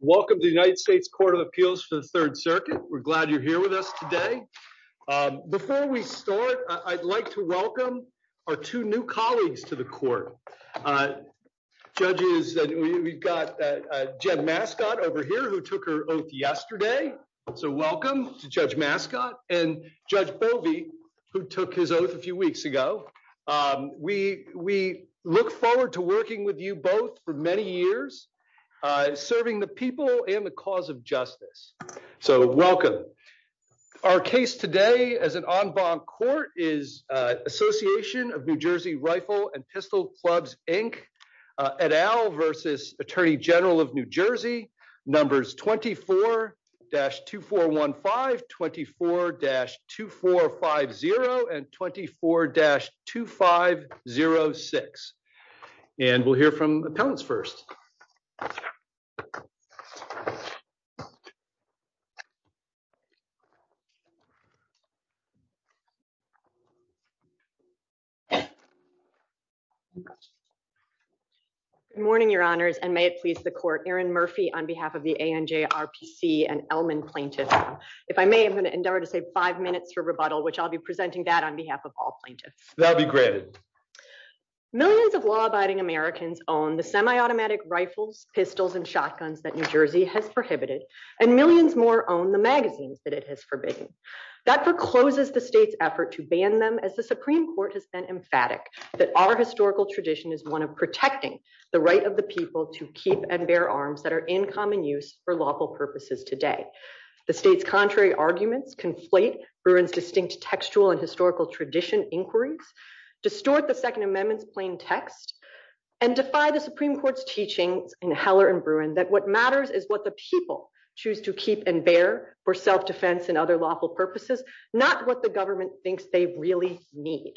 Welcome to the United States Court of Appeals to the Third Circuit. We're glad you're here with us today. Before we start, I'd like to welcome our two new colleagues to the court. Judges, we've got Jen Mascott over here who took her oath yesterday. So welcome to Judge Mascott and Judge Bovee who took his oath a few weeks ago. We look forward to working with you both for many years serving the people and the cause of justice. So welcome. Our case today as an en banc court is Association of New Jersey Rifle and Pistol Clubs Inc. et al. v. Attorney General of New Jersey, numbers 24-2415, 24-2450, and 24-2506. And we'll hear from the appellants first. Good morning, Your Honors, and may it please the Court, Erin Murphy on behalf of the ANJ RPC and Elman plaintiffs. If I may, I'm going to endeavor to save five minutes for rebuttal, which I'll be presenting that on behalf of all plaintiffs. That'd be great. Millions of law-abiding Americans own the semi-automatic rifles, pistols, and shotguns that New Jersey has prohibited, and millions more own the magazines that it has forbidden. That forecloses the state's effort to ban them as the Supreme Court has been emphatic that our historical tradition is one of protecting the right of the people to keep and bear arms that are in common use for lawful purposes today. The state's contrary arguments conflate Erin's distinct textual and historical tradition inquiries, distort the Second Amendment's plain text, and defy the Supreme Court's teaching in Heller and Bruin that what matters is what the people choose to keep and bear for self-defense and other lawful purposes, not what the government thinks they really need.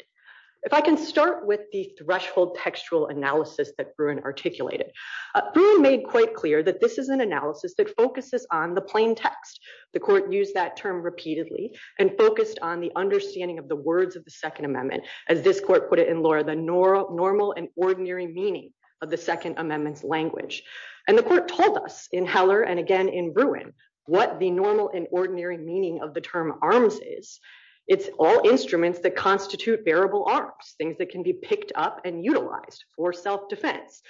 If I can start with the threshold textual analysis that Bruin articulated. Bruin made quite clear that this is an analysis that focuses on the plain text. The Court used that term repeatedly and focused on the understanding of the words of the Second Amendment, as this Court put it in Laura, the normal and ordinary meaning of the Second Amendment's language. And the Court told us in Heller and again in Bruin what the normal and ordinary meaning of the term arms is. It's all instruments that constitute bearable arms, things that can be picked up and utilized for self-defense.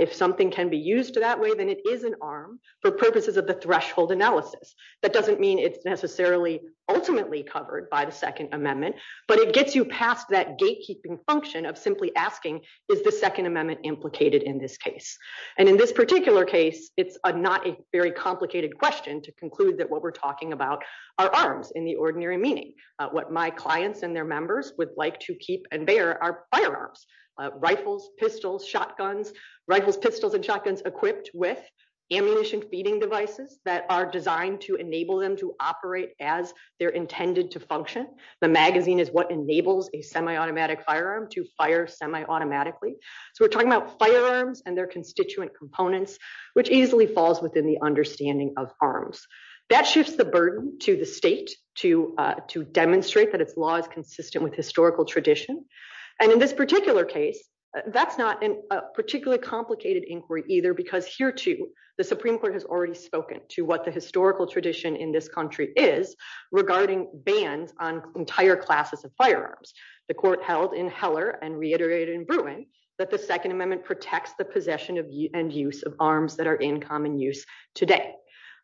If something can be used that way, then it is an arm for purposes of the threshold analysis. That doesn't mean it's ultimately covered by the Second Amendment, but it gets you past that gatekeeping function of simply asking, is the Second Amendment implicated in this case? And in this particular case, it's not a very complicated question to conclude that what we're talking about are arms in the ordinary meaning. What my clients and their members would like to keep and bear are firearms, rifles, pistols, shotguns, rifles, pistols, and shotguns equipped with ammunition feeding devices that are designed to enable them to operate as they're intended to function. The magazine is what enables a semi-automatic firearm to fire semi-automatically. So we're talking about firearms and their constituent components, which easily falls within the understanding of arms. That shifts the burden to the state to demonstrate that its law is consistent with historical tradition. And in this particular case, that's not a particularly complicated inquiry either, because here too, the Supreme Court has already spoken to what the historical tradition in this country is regarding bans on entire classes of firearms. The court held in Heller and reiterated in Bruin that the Second Amendment protects the possession and use of arms that are in common use today.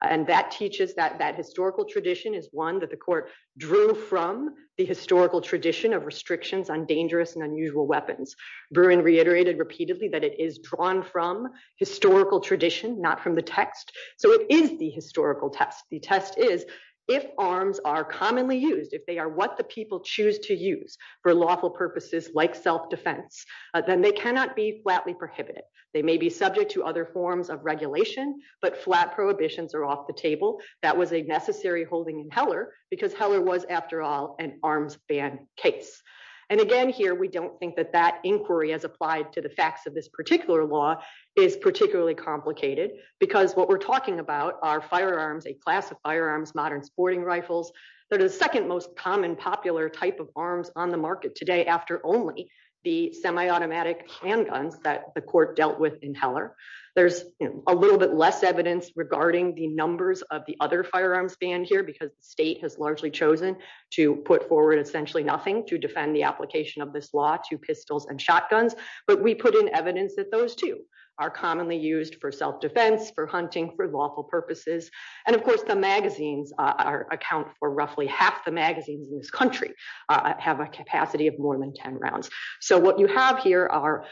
And that teaches that that historical tradition is one that the court drew from the historical tradition of restrictions on dangerous and unusual weapons. Bruin reiterated repeatedly that it is drawn from historical tradition, not from the text. So it is the historical test. The test is if arms are commonly used, if they are what the people choose to use for lawful purposes like self-defense, then they cannot be flatly prohibited. They may be subject to other forms of regulation, but flat prohibitions are off the table. That was a necessary holding in Heller because Heller was, after all, an arms ban case. And again here, we don't think that that inquiry has applied to the facts of this particular law is particularly complicated, because what we're talking about are firearms, a class of firearms, modern sporting rifles, that are the second most common popular type of arms on the market today, after only the semi-automatic handguns that the court dealt with in Heller. There's a little bit less evidence regarding the numbers of the other firearms ban here, because the state has largely chosen to put forward essentially nothing to defend the application of this law to pistols and shotguns, but we put in evidence that those two are commonly used for self-defense, for hunting, for lawful purposes, and of course the magazines are account for roughly half the magazines in this country have a capacity of more than 10 rounds. So what you have here are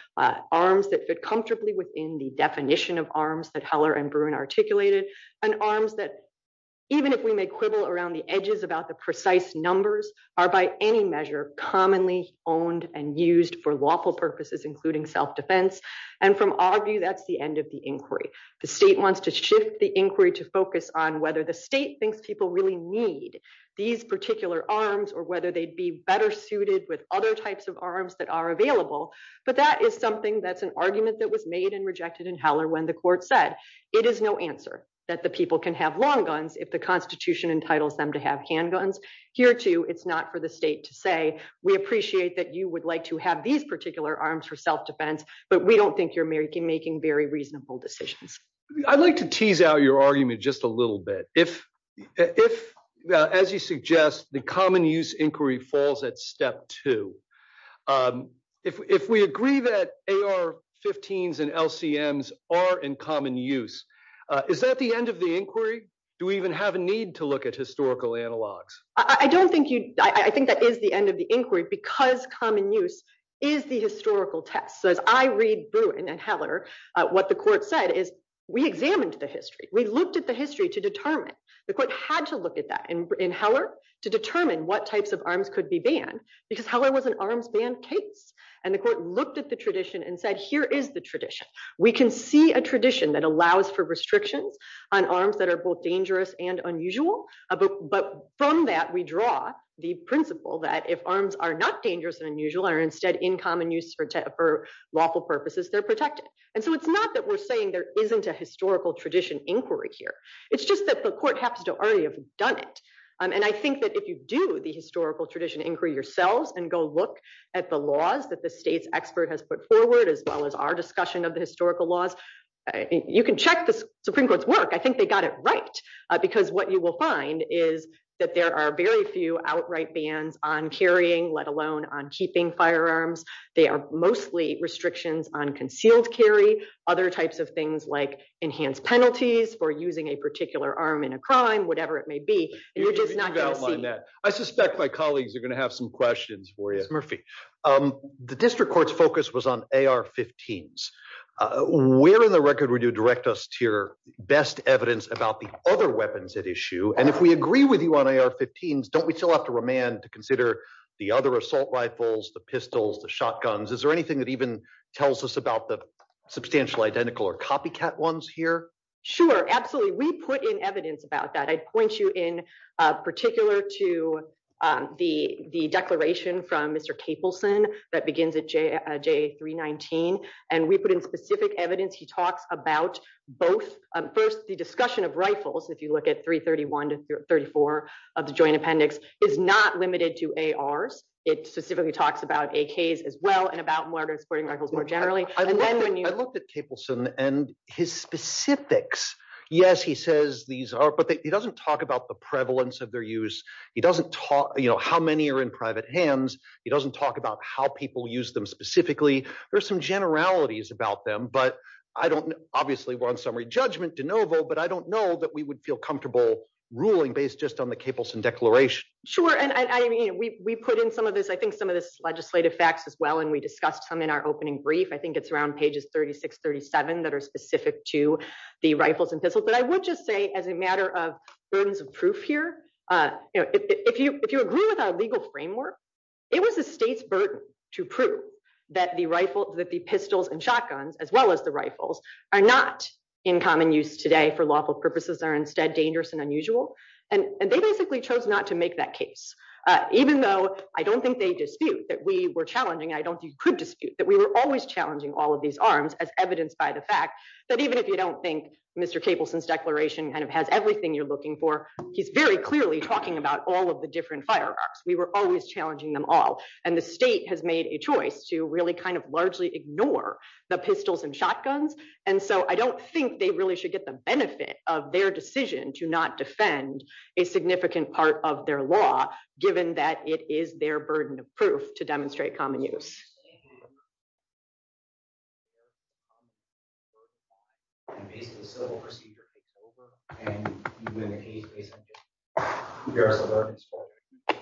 arms that fit comfortably within the definition of arms that Heller and Bruin articulated, and arms that even if we may quibble around the edges about the precise numbers are by any measure commonly owned and used for lawful purposes including self-defense, and from our view that's the end of the inquiry. The state wants to shift the inquiry to focus on whether the state thinks people really need these particular arms or whether they'd be better suited with other types of arms that are available, but that is something that's an argument that was made and rejected in Heller when the court said it is no answer that the people can have long guns if constitution entitles them to have handguns. Here too it's not for the state to say we appreciate that you would like to have these particular arms for self-defense, but we don't think you're making making very reasonable decisions. I'd like to tease out your argument just a little bit. If as you suggest the common use inquiry falls at step two. If we agree that AR-15s and LCMs are in common use, is that the end of the inquiry? Do we even have a need to look at historical analogs? I don't think you, I think that is the end of the inquiry because common use is the historical test. So if I read Bruin and Heller, what the court said is we examined the history. We looked at the history to determine. The court had to look at that in Heller to determine what types of arms could be banned because Heller was an arms ban case, and the court looked at the tradition and said here is the tradition. We can see a tradition that allows for restrictions on arms that are both dangerous and unusual, but from that we draw the principle that if arms are not dangerous and unusual are instead in common use for lawful purposes, they're protected. And so it's not that we're saying there isn't a historical tradition inquiry here. It's just that the court happens to already have done it, and I think that if you do the historical tradition inquiry yourself and go look at the laws that the state's expert has put forward as well as our discussion of the historical laws, you can check the Supreme Court's work. I think they got it right because what you will find is that there are very few outright bans on carrying, let alone on keeping firearms. They are mostly restrictions on concealed carry, other types of things like enhanced penalties for using a particular arm in a crime, whatever it may be. I suspect my colleagues are going to have some questions for you. The district court's focus was on AR-15s. Where in the record would you direct us to your best evidence about the other weapons at issue? And if we agree with you on AR-15s, don't we still have to remand to consider the other assault rifles, the pistols, the shotguns? Is there anything that even tells us about the substantial identical or copycat ones here? Sure, absolutely. We put in evidence about that. I'd point you in particular to the declaration from Mr. Capelson that begins at JA-319, and we put in specific evidence. He talks about both. First, the discussion of rifles, if you look at 331 to 34 of the joint appendix, is not limited to ARs. It specifically talks about AKs as well and about mortars, sporting rifles more generally. I looked at Capelson and his specifics, yes, he says these are, but he doesn't talk about the prevalence of their use. He doesn't talk, you know, how many are in private hands. He doesn't talk about how people use them specifically. There's some generalities about them, but I don't, obviously we're on summary judgment de novo, but I don't know that we would feel comfortable ruling based just on the Capelson declaration. Sure, and I mean, we put in some of this, I think some of this legislative facts as well, and we discussed them in our opening brief. I think it's around pages 36, 37 that are specific to the rifles and pistols, but I would just say as a matter of burdens of proof here, you know, if you agree with our legal framework, it was the state's burden to prove that the rifles, that the pistols and shotguns, as well as the rifles, are not in common use today for lawful purposes. They're instead dangerous and unusual, and they basically chose not to make that case, even though I don't think they dispute that we were challenging, and I don't think you could dispute that we were always challenging all of these arms as evidenced by the fact that even if you don't think Mr. Capelson's declaration kind of has everything you're looking for, he's very clearly talking about all of the different firearms. We were always challenging them all, and the state has made a choice to really kind of largely ignore the pistols and shotguns, and so I don't think they really should get the benefit of their decision to not defend a significant part of their law, given that it is their burden of proof to demonstrate common use.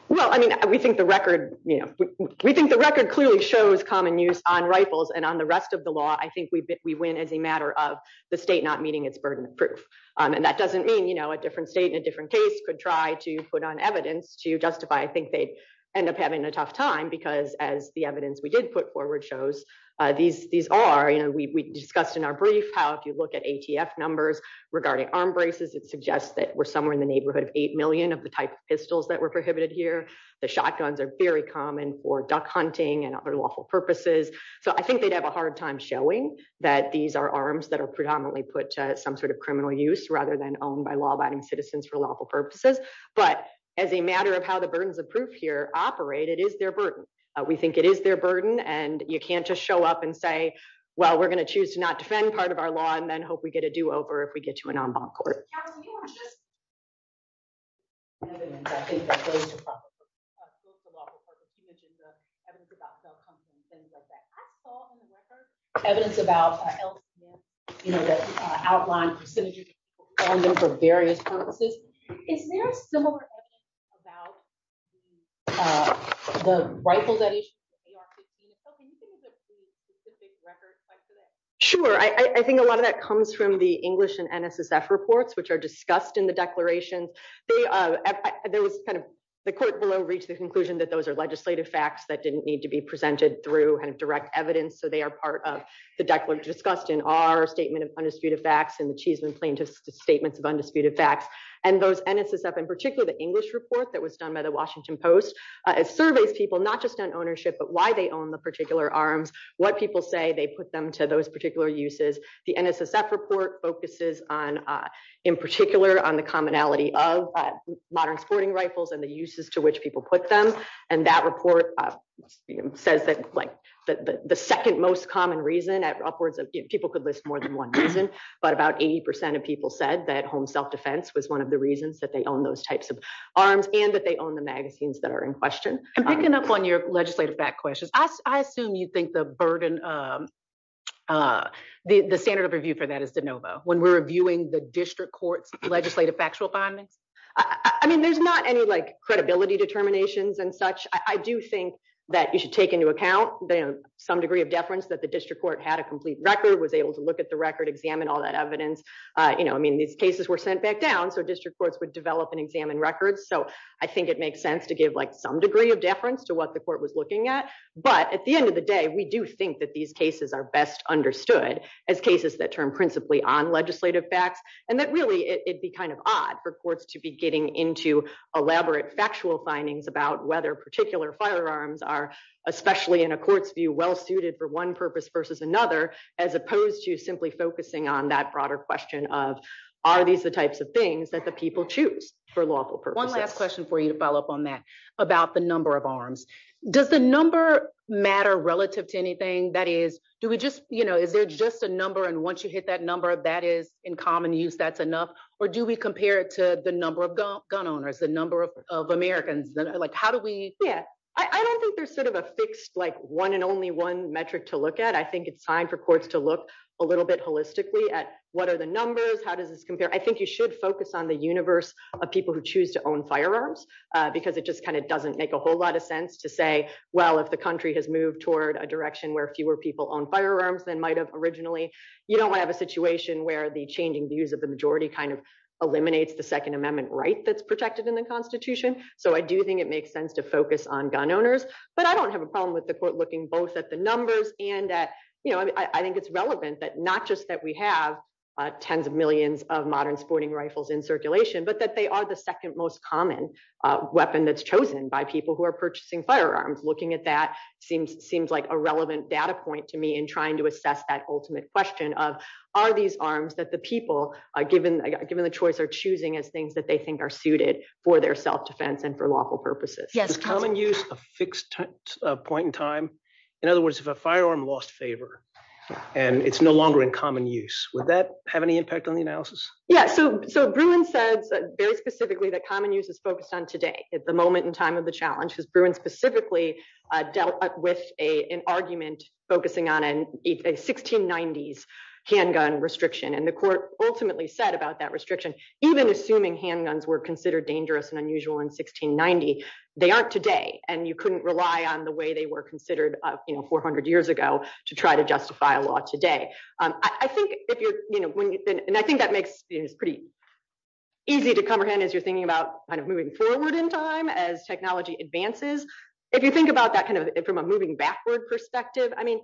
Well, I mean, we think the record, you know, we think the record clearly shows common use on rifles, and on the rest of the law, I think we win as a matter of the state not meeting its burden of proof, and that doesn't mean, you know, a different state in a different case could try to put on evidence to justify. I think they end up having a tough time, because as the evidence we did put forward shows, these are, you know, we discussed in our brief how if you look at ATF numbers regarding arm braces, it suggests that we're somewhere in the neighborhood of eight million of the type of pistols that were prohibited here. The shotguns are very common for duck hunting and other lawful purposes, so I think they'd have a hard time showing that these are arms that are predominantly put to some sort of criminal use rather than owned by law-abiding citizens for lawful purposes, but as a matter of how the burdens of proof here operate, it is their burden. We think it is their burden, and you can't just show up and say, well, we're going to choose to not defend part of our law and then hope we get a do-over if we get to an en banc court. I think a lot of that comes from the English and NSSF reports, which are discussed in the declaration. The court below reached the conclusion that those are legislative facts that didn't need to be presented through direct evidence, so they are part of the declaration discussed in our statement of undisputed facts and the Chiefs and Plaintiffs' statements of undisputed facts, and those NSSF, and particularly the English report that was done by the Washington Post, it surveys people not just on ownership, but why they own the particular arms, what people say they put them to those particular uses. The NSSF report focuses on, in particular, on the commonality of modern sporting rifles and the uses to which people put them, and that report says that the second most common reason upwards of, people could list more than one reason, but about 80% of people said that home self-defense was one of the reasons that they own those types of arms and that they own the magazines that are in question. And picking up on your legislative questions, I assume you think the burden, the standard of review for that is de novo, when we're reviewing the district court's legislative factual findings? I mean, there's not any credibility determinations and such. I do think that you should take into account some degree of deference that the district court had a complete record, was able to look at the record, examine all that evidence. I mean, these cases were sent back down, so district courts would develop and examine records, so I think it makes sense to give some degree of deference to what the court was looking at. But at the end of the day, we do think that these cases are best understood as cases that turn principally on legislative facts, and that really, it'd be kind of odd for courts to be getting into elaborate factual findings about whether particular firearms are, especially in a court's view, well-suited for one purpose versus another, as opposed to simply focusing on that broader question of, are these the types of things that the people choose for lawful purposes? One last question for you to follow up on that, about the number of arms. Does the number matter relative to anything? That is, do we just, you know, is there just a number, and once you hit that number, if that is in common use, that's enough? Or do we compare it to the number of gun owners, the number of Americans? Like, how do we? Yeah, I don't think there's sort of a fixed, like, one and only one metric to look at. I think it's time for courts to look a little bit holistically at what are the numbers, how does this compare? I think you should focus on the universe of people who choose to own firearms, because it just kind of doesn't make a whole lot of sense to say, well, if the country has moved toward a direction where fewer people own firearms than might have originally, you don't want to have a situation where the changing views of the majority kind of eliminates the Second Amendment right that's protected in the Constitution. So I do think it makes sense to focus on gun owners. But I don't have a problem with the court looking both at the numbers and that, you know, I think it's relevant that not just that we have tens of millions of modern sporting rifles in circulation, but that they are the second most common weapon that's chosen by people who are purchasing firearms. Looking at that seems seems like a relevant data point to me in trying to assess that ultimate question of are these arms that the people are given given the choice are choosing as things that they think are suited for their self-defense and for lawful purposes. Yeah, there's common use a fixed point in time. In other words, if a firearm lost favor and it's no longer in common use, would that have any impact on the analysis? Yeah, so Bruin said that very specifically that common use is focused on today. It's the moment in time of the challenge because Bruin specifically dealt with an argument focusing on a 1690s handgun restriction. And the court ultimately said about that restriction, even assuming handguns were considered dangerous and unusual in 1690, they aren't today. And you couldn't rely on the way they were considered 400 years ago to try to justify a law today. I think if you're, you know, and I think that makes it pretty easy to comprehend as you're thinking about kind of moving forward in time as technology advances. If you think about that kind of from a moving backward perspective, I mean,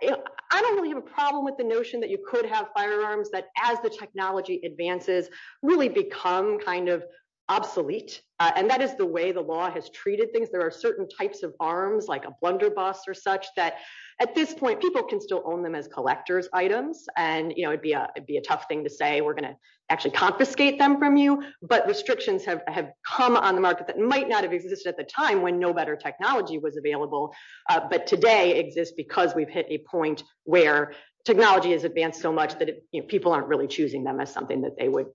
I don't really have a problem with the notion that you could have firearms that as the technology advances, really become kind of obsolete. And that is the way the law has treated things. There are certain types of arms like a blunderbuss or such that at this point people can still own them as collector's items. And, you know, it'd be a tough thing to say we're going to actually confiscate them from you. But restrictions have come on the market that might not have existed at the time when no better technology was available. But today exists because we've hit a point where technology has advanced so much that people aren't really choosing them as something that they would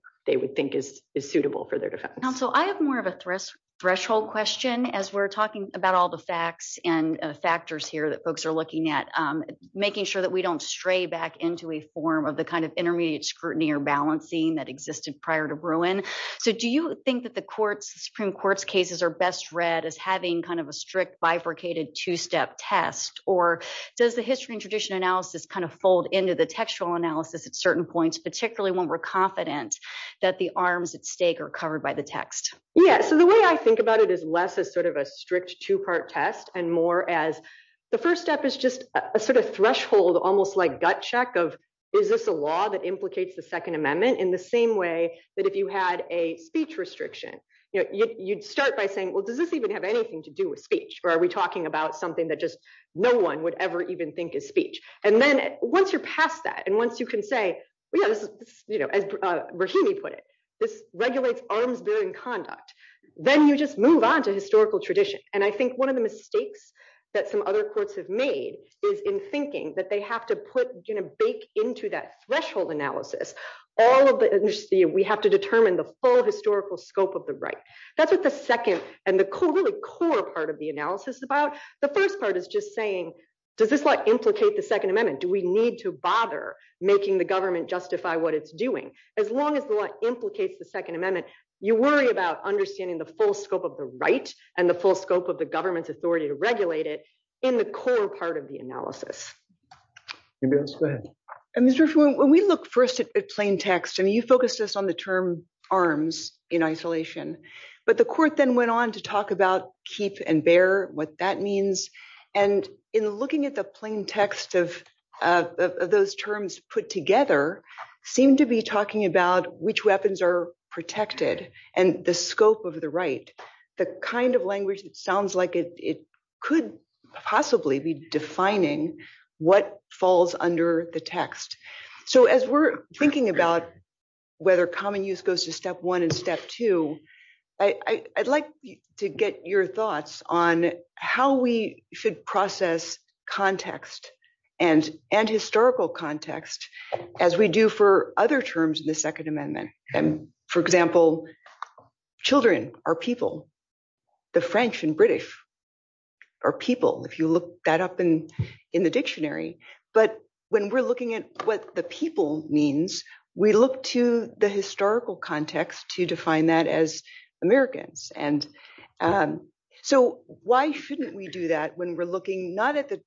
think is suitable for their defense. Counsel, I have more of a threshold question as we're talking about all the facts and factors here that folks are looking at, making sure that we don't stray back into a form of the kind of intermediate scrutiny or balancing that existed prior to Bruin. So do you think that the Supreme Court's cases are best read as having kind of a strict bifurcated two-step test? Or does the history and tradition analysis kind of fold into the textual analysis at certain points, particularly when we're confident that the arms at stake are covered by the text? Yeah, so the way I think about it is less as sort of a strict two-part test and more as the first step is just a sort of threshold, almost like gut check of is this a law that implicates the Second Amendment in the same way that if you had a speech restriction, you know, you'd start by saying, well, does this even have anything to do with speech? Or are we talking about something that just no one would ever even think is speech? And then once you're past that, and once you can say, well, yeah, this is, you know, as Rahimi put it, this regulates arms bearing conduct, then you just move on to historical tradition. And I think one of the mistakes that some other courts have made is in thinking that they have to put, you know, bake into that threshold analysis, all of the, we have to determine the full historical scope of the right. That's what the second and the core part of the analysis is about. The first part is just saying, does this, what implicate the Second Amendment? Do we need to bother making the government justify what it's doing? As long as the law implicates the Second Amendment, you worry about understanding the full scope of the right and the full scope of the government's authority to regulate it in the core part of the analysis. And Mr. Fuhrman, when we look first at plain text, and you focus this on the term arms in isolation, but the court then went on to talk about keep and bear what that means. And in looking at the plain text of those terms put together, seem to be talking about which weapons are protected and the scope of the right, the kind of language, it sounds like it could possibly be defining what falls under the text. So as we're thinking about whether common use goes to step one and step two, I'd like to get your thoughts on how we should process context and historical context as we do for other terms in the Second Amendment. And for example, children are people. The French and British are people, if you look that up in the dictionary. But when we're looking at what the people means, we look to the historical context to define that as Americans. And so why shouldn't we do that when we're looking not at the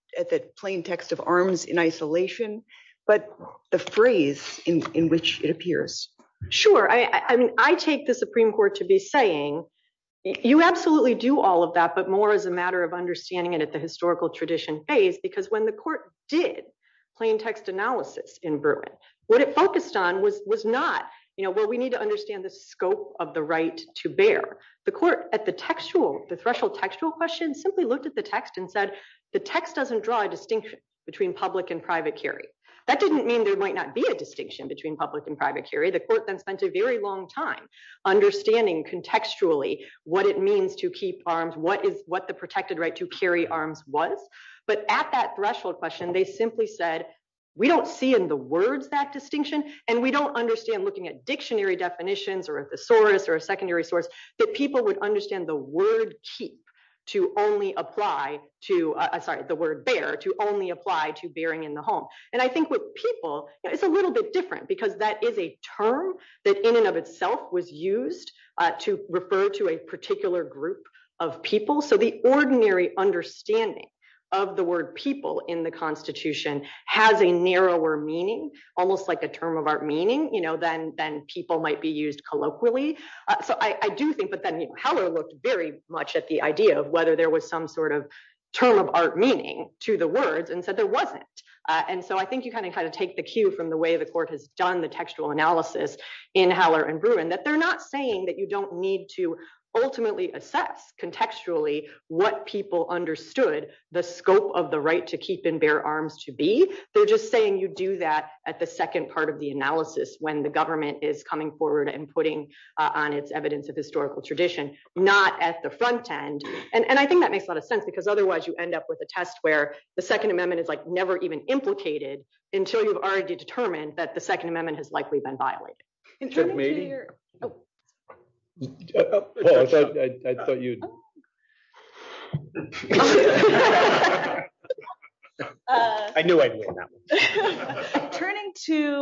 plain text of arms in isolation, but the phrase in which it appears? Sure. I mean, I take the Supreme Court to be saying, you absolutely do all of that, but more as a matter of understanding it at the historical tradition phase, because when the court did plain text analysis in Bruin, what it focused on was not, you know, well, we need to understand the scope of the right to bear. The court at the textual, the threshold textual question simply looked at the text and said, the text doesn't draw a distinction between public and private carry. That didn't mean there might not be a distinction between public and private carry. The court then spent a very long time understanding contextually what it means to keep arms, what the protected right to carry arms was. But at that threshold question, they simply said, we don't see in the words that distinction, and we don't understand looking at dictionary definitions or a thesaurus or a secondary source, that people would understand the word keep to only apply to, sorry, the word bear to only apply to bearing in the home. And I think with people, it's a little bit different, because that is a term that in and of itself was used to refer to a particular group of people. So the ordinary understanding of the word people in the constitution has a narrower meaning, almost like a term of art meaning, you know, then people might be used colloquially. So I do think that then Haller looked very much at the idea of whether there was some sort of term of art meaning to the words and said there wasn't. And so I think you kind of kind of take the cue from the way the court has done the textual analysis in Haller and Bruin, that they're not saying that you don't need to ultimately assess contextually, what people understood the scope of the right to keep and bear arms to be, they're just saying you do that at the second part of the analysis when the government is coming forward and putting on its evidence of historical tradition, not at the front end. And I think that makes a lot of sense, because otherwise, you end up with a test where the Second Amendment is like even implicated until you've already determined that the Second Amendment has likely been violated. Turning to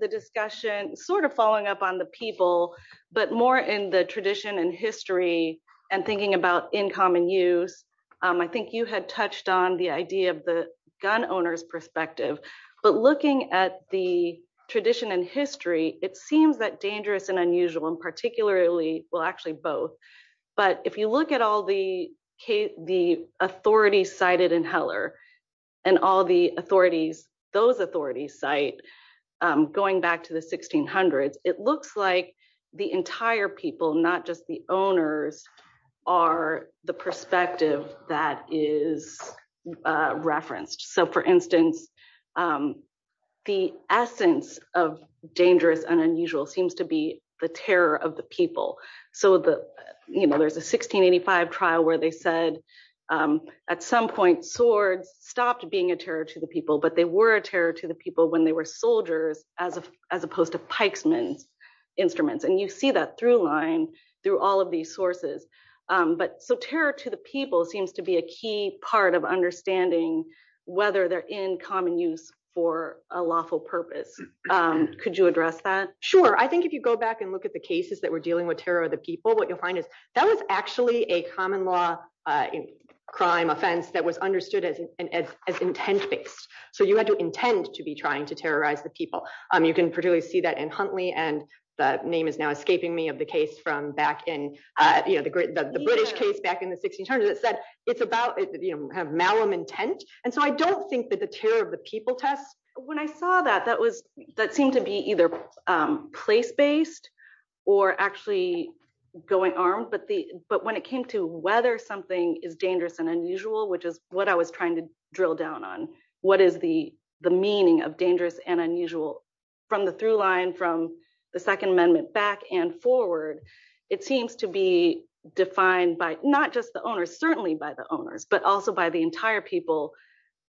the discussion, sort of following up on the people, but more in the tradition and history and thinking about in common use. I think you had touched on the idea of the gun owners perspective, but looking at the tradition and history, it seems that dangerous and unusual and particularly, well actually both, but if you look at all the authorities cited in Haller, and all the authorities, those authorities cite, going back to the 1600s, it looks like the entire people, not just the owners, are the perspective that is referenced. So for instance, the essence of dangerous and unusual seems to be the terror of the people. So the, you know, there's a 1685 trial where they said at some point, swords stopped being a terror to the people, but they were a terror to the people when they were soldiers as opposed to pikesman instruments. And you see that through line all of these sources. But so terror to the people seems to be a key part of understanding whether they're in common use for a lawful purpose. Could you address that? Sure. I think if you go back and look at the cases that were dealing with terror of the people, what you'll find is that was actually a common law crime offense that was understood as intent-based. So you had to intend to be trying to terrorize the people. You can particularly see that in Huntley and the name is now escaping me of the case from back in, you know, the British case back in the 1600s that said it's about malum intent. And so I don't think that the terror of the people test, when I saw that, that was, that seemed to be either place-based or actually going armed. But when it came to whether something is dangerous and unusual, which is what I was trying to drill down on, what is the meaning of dangerous and unusual from the through line, from the second amendment back and forward, it seems to be defined by not just the owners, certainly by the owners, but also by the entire people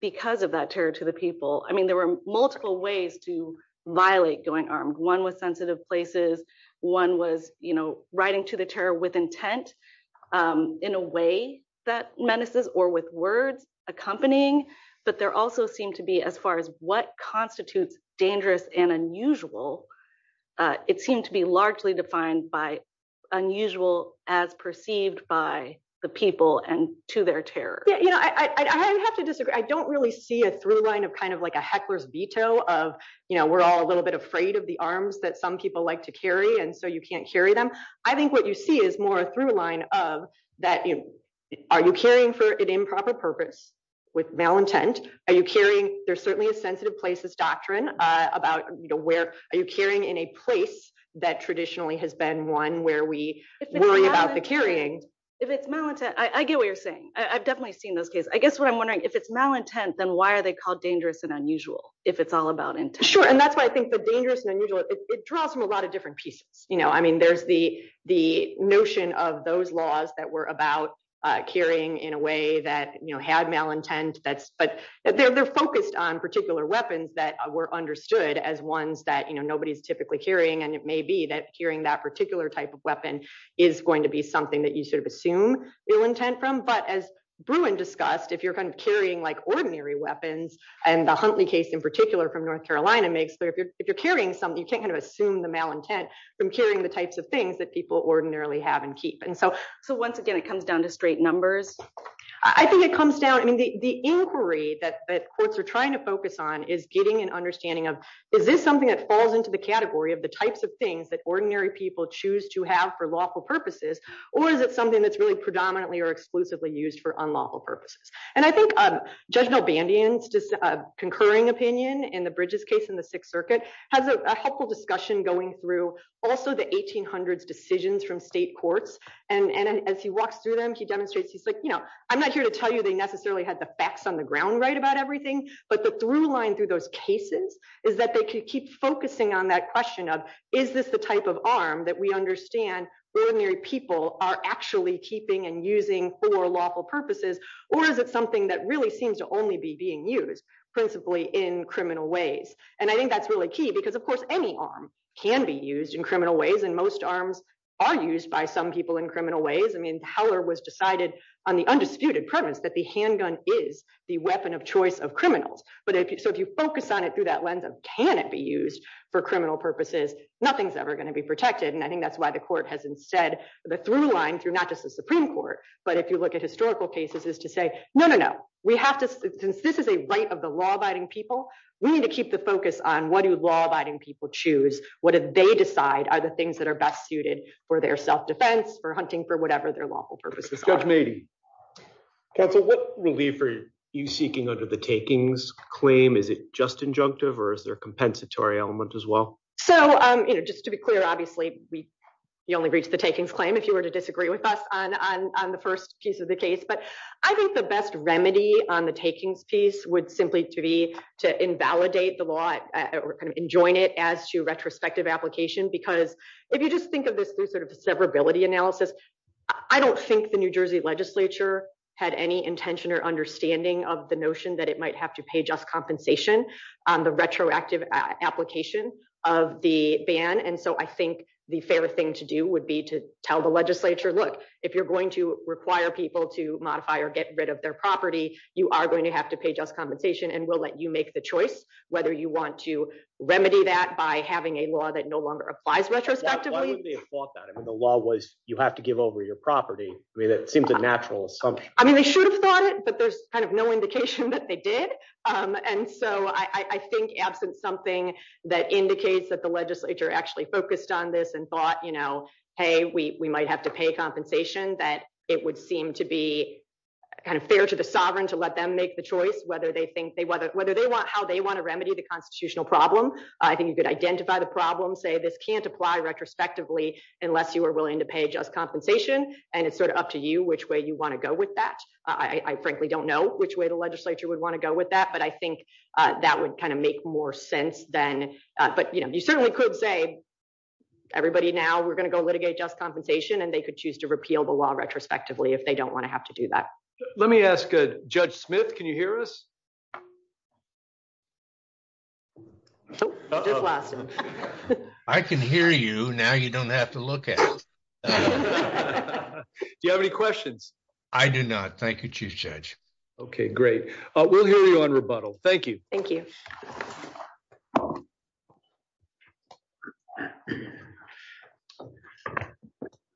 because of that terror to the people. I mean, there were multiple ways to violate going armed. One was sensitive places. One was, you know, menaces or with words accompanying, but there also seemed to be as far as what constitutes dangerous and unusual, it seemed to be largely defined by unusual as perceived by the people and to their terror. Yeah, you know, I have to disagree. I don't really see a through line of kind of like a heckler's veto of, you know, we're all a little bit afraid of the arms that some people like to carry and so you can't carry them. I think what you see is more a through line of that, you know, are you carrying for an improper purpose with malintent? Are you carrying, there's certainly a sensitive places doctrine about, you know, where are you carrying in a place that traditionally has been one where we worry about the carrying. If it's malintent, I get what you're saying. I've definitely seen those cases. I guess what I'm wondering, if it's malintent, then why are they called dangerous and unusual if it's all about intent? Sure, and that's why I think the dangerous and unusual, it draws from a lot of different pieces. You know, I mean, there's the notion of those laws that were about carrying in a way that, you know, had malintent, but they're focused on particular weapons that were understood as ones that, you know, nobody's typically carrying. And it may be that carrying that particular type of weapon is going to be something that you sort of assume ill intent from. But as Bruin discussed, if you're kind of carrying like ordinary weapons, and the Huntley case in particular from North Carolina makes, if you're something, you can't kind of assume the malintent from carrying the types of things that people ordinarily have and keep. And so once again, it comes down to straight numbers. I think it comes down, and the inquiry that courts are trying to focus on is getting an understanding of, is this something that falls into the category of the types of things that ordinary people choose to have for lawful purposes? Or is it something that's really predominantly or exclusively used for unlawful purposes? And I think Judge Nobandian's just concurring opinion in the Bridges case in the Sixth Circuit, has a helpful discussion going through also the 1800s decisions from state courts. And as he walks through them, he demonstrates, he's like, you know, I'm not here to tell you they necessarily had the facts on the ground right about everything. But the through line through those cases, is that they can keep focusing on that question of, is this the type of arm that we understand ordinary people are actually keeping and using for lawful purposes? Or is it something that really seems to only be being used, principally in criminal ways? And I think that's really key, because of course, any arm can be used in criminal ways. And most arms are used by some people in criminal ways. I mean, power was decided on the undisputed premise that the handgun is the weapon of choice of criminals. But if you so if you focus on it through that lens of can it be used for criminal purposes, nothing's ever going to be protected. And I think that's why the court has instead, the through line through not just the Supreme Court, but if you look at historical cases is to say, no, no, no, we have to, since this is a right of the law abiding people, we need to keep the focus on what do law abiding people choose? What did they decide are the things that are best suited for their self defense for hunting for whatever their lawful purposes? What will be for you seeking under the takings claim? Is it just injunctive? Or is there a compensatory element as well? So, you know, just to be clear, obviously, you only reach the takings claim if you were to disagree with us on the first piece of the case. But I think the best remedy on the taking piece would simply to be to invalidate the law and join it as to retrospective application. Because if you just think of this through sort of severability analysis, I don't think the New Jersey legislature had any intention or understanding of the notion that it might have to pay just compensation on the retroactive application of the ban. And so I think the fairest thing to do would be to tell the legislature, look, if you're going to require people to modify or get rid of their property, you are going to have to pay just compensation. And we'll let you make the choice whether you want to remedy that by having a law that no longer applies retrospectively. The law was you have to give over your property. I mean, it seems a natural. I mean, they should have thought that there's kind of no indication that they did. And so I think that's something that indicates that the legislature actually focused on this and thought, you know, hey, we might have to pay compensation, that it would seem to be kind of fair to the sovereign to let them make the choice whether they think they whether they want how they want to remedy the constitutional problem. I think you could identify the problem, say this can't apply retrospectively unless you are willing to pay just compensation. And it's sort of up to you which way you want to go with that. I frankly don't know which way legislature would want to go with that. But I think that would kind of make more sense then. But, you know, you certainly could say everybody now we're going to go litigate just compensation and they could choose to repeal the law retrospectively if they don't want to have to do that. Let me ask Judge Smith. Can you hear us? I can hear you now. You don't have to look at me. Do you have any questions? I do not. Thank you, Chief Judge. OK, great. We'll hear you on rebuttal. Thank you. Thank you.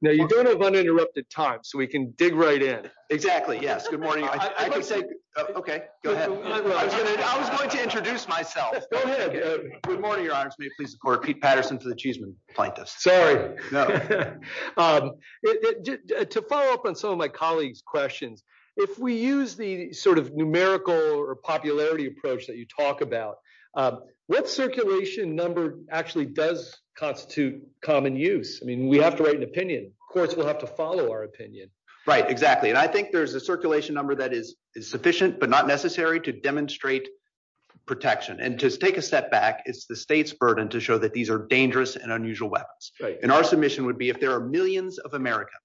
Now, you don't have uninterrupted time, so we can dig right in. Exactly. Yes. Good morning. OK, go ahead. I was going to introduce myself. Good morning, Your Honor. I'm Pete Patterson. To follow up on some of my colleagues' questions, if we use the sort of numerical or popularity approach that you talk about, what circulation number actually does constitute common use? I mean, we have to write an opinion. Of course, we'll have to follow our opinion. Right. Exactly. And I think there's a circulation number that is sufficient but not necessary to demonstrate protection. And to take a step back, it's the state's burden to show that these are dangerous and unusual weapons. And our submission would be if there are millions of Americans,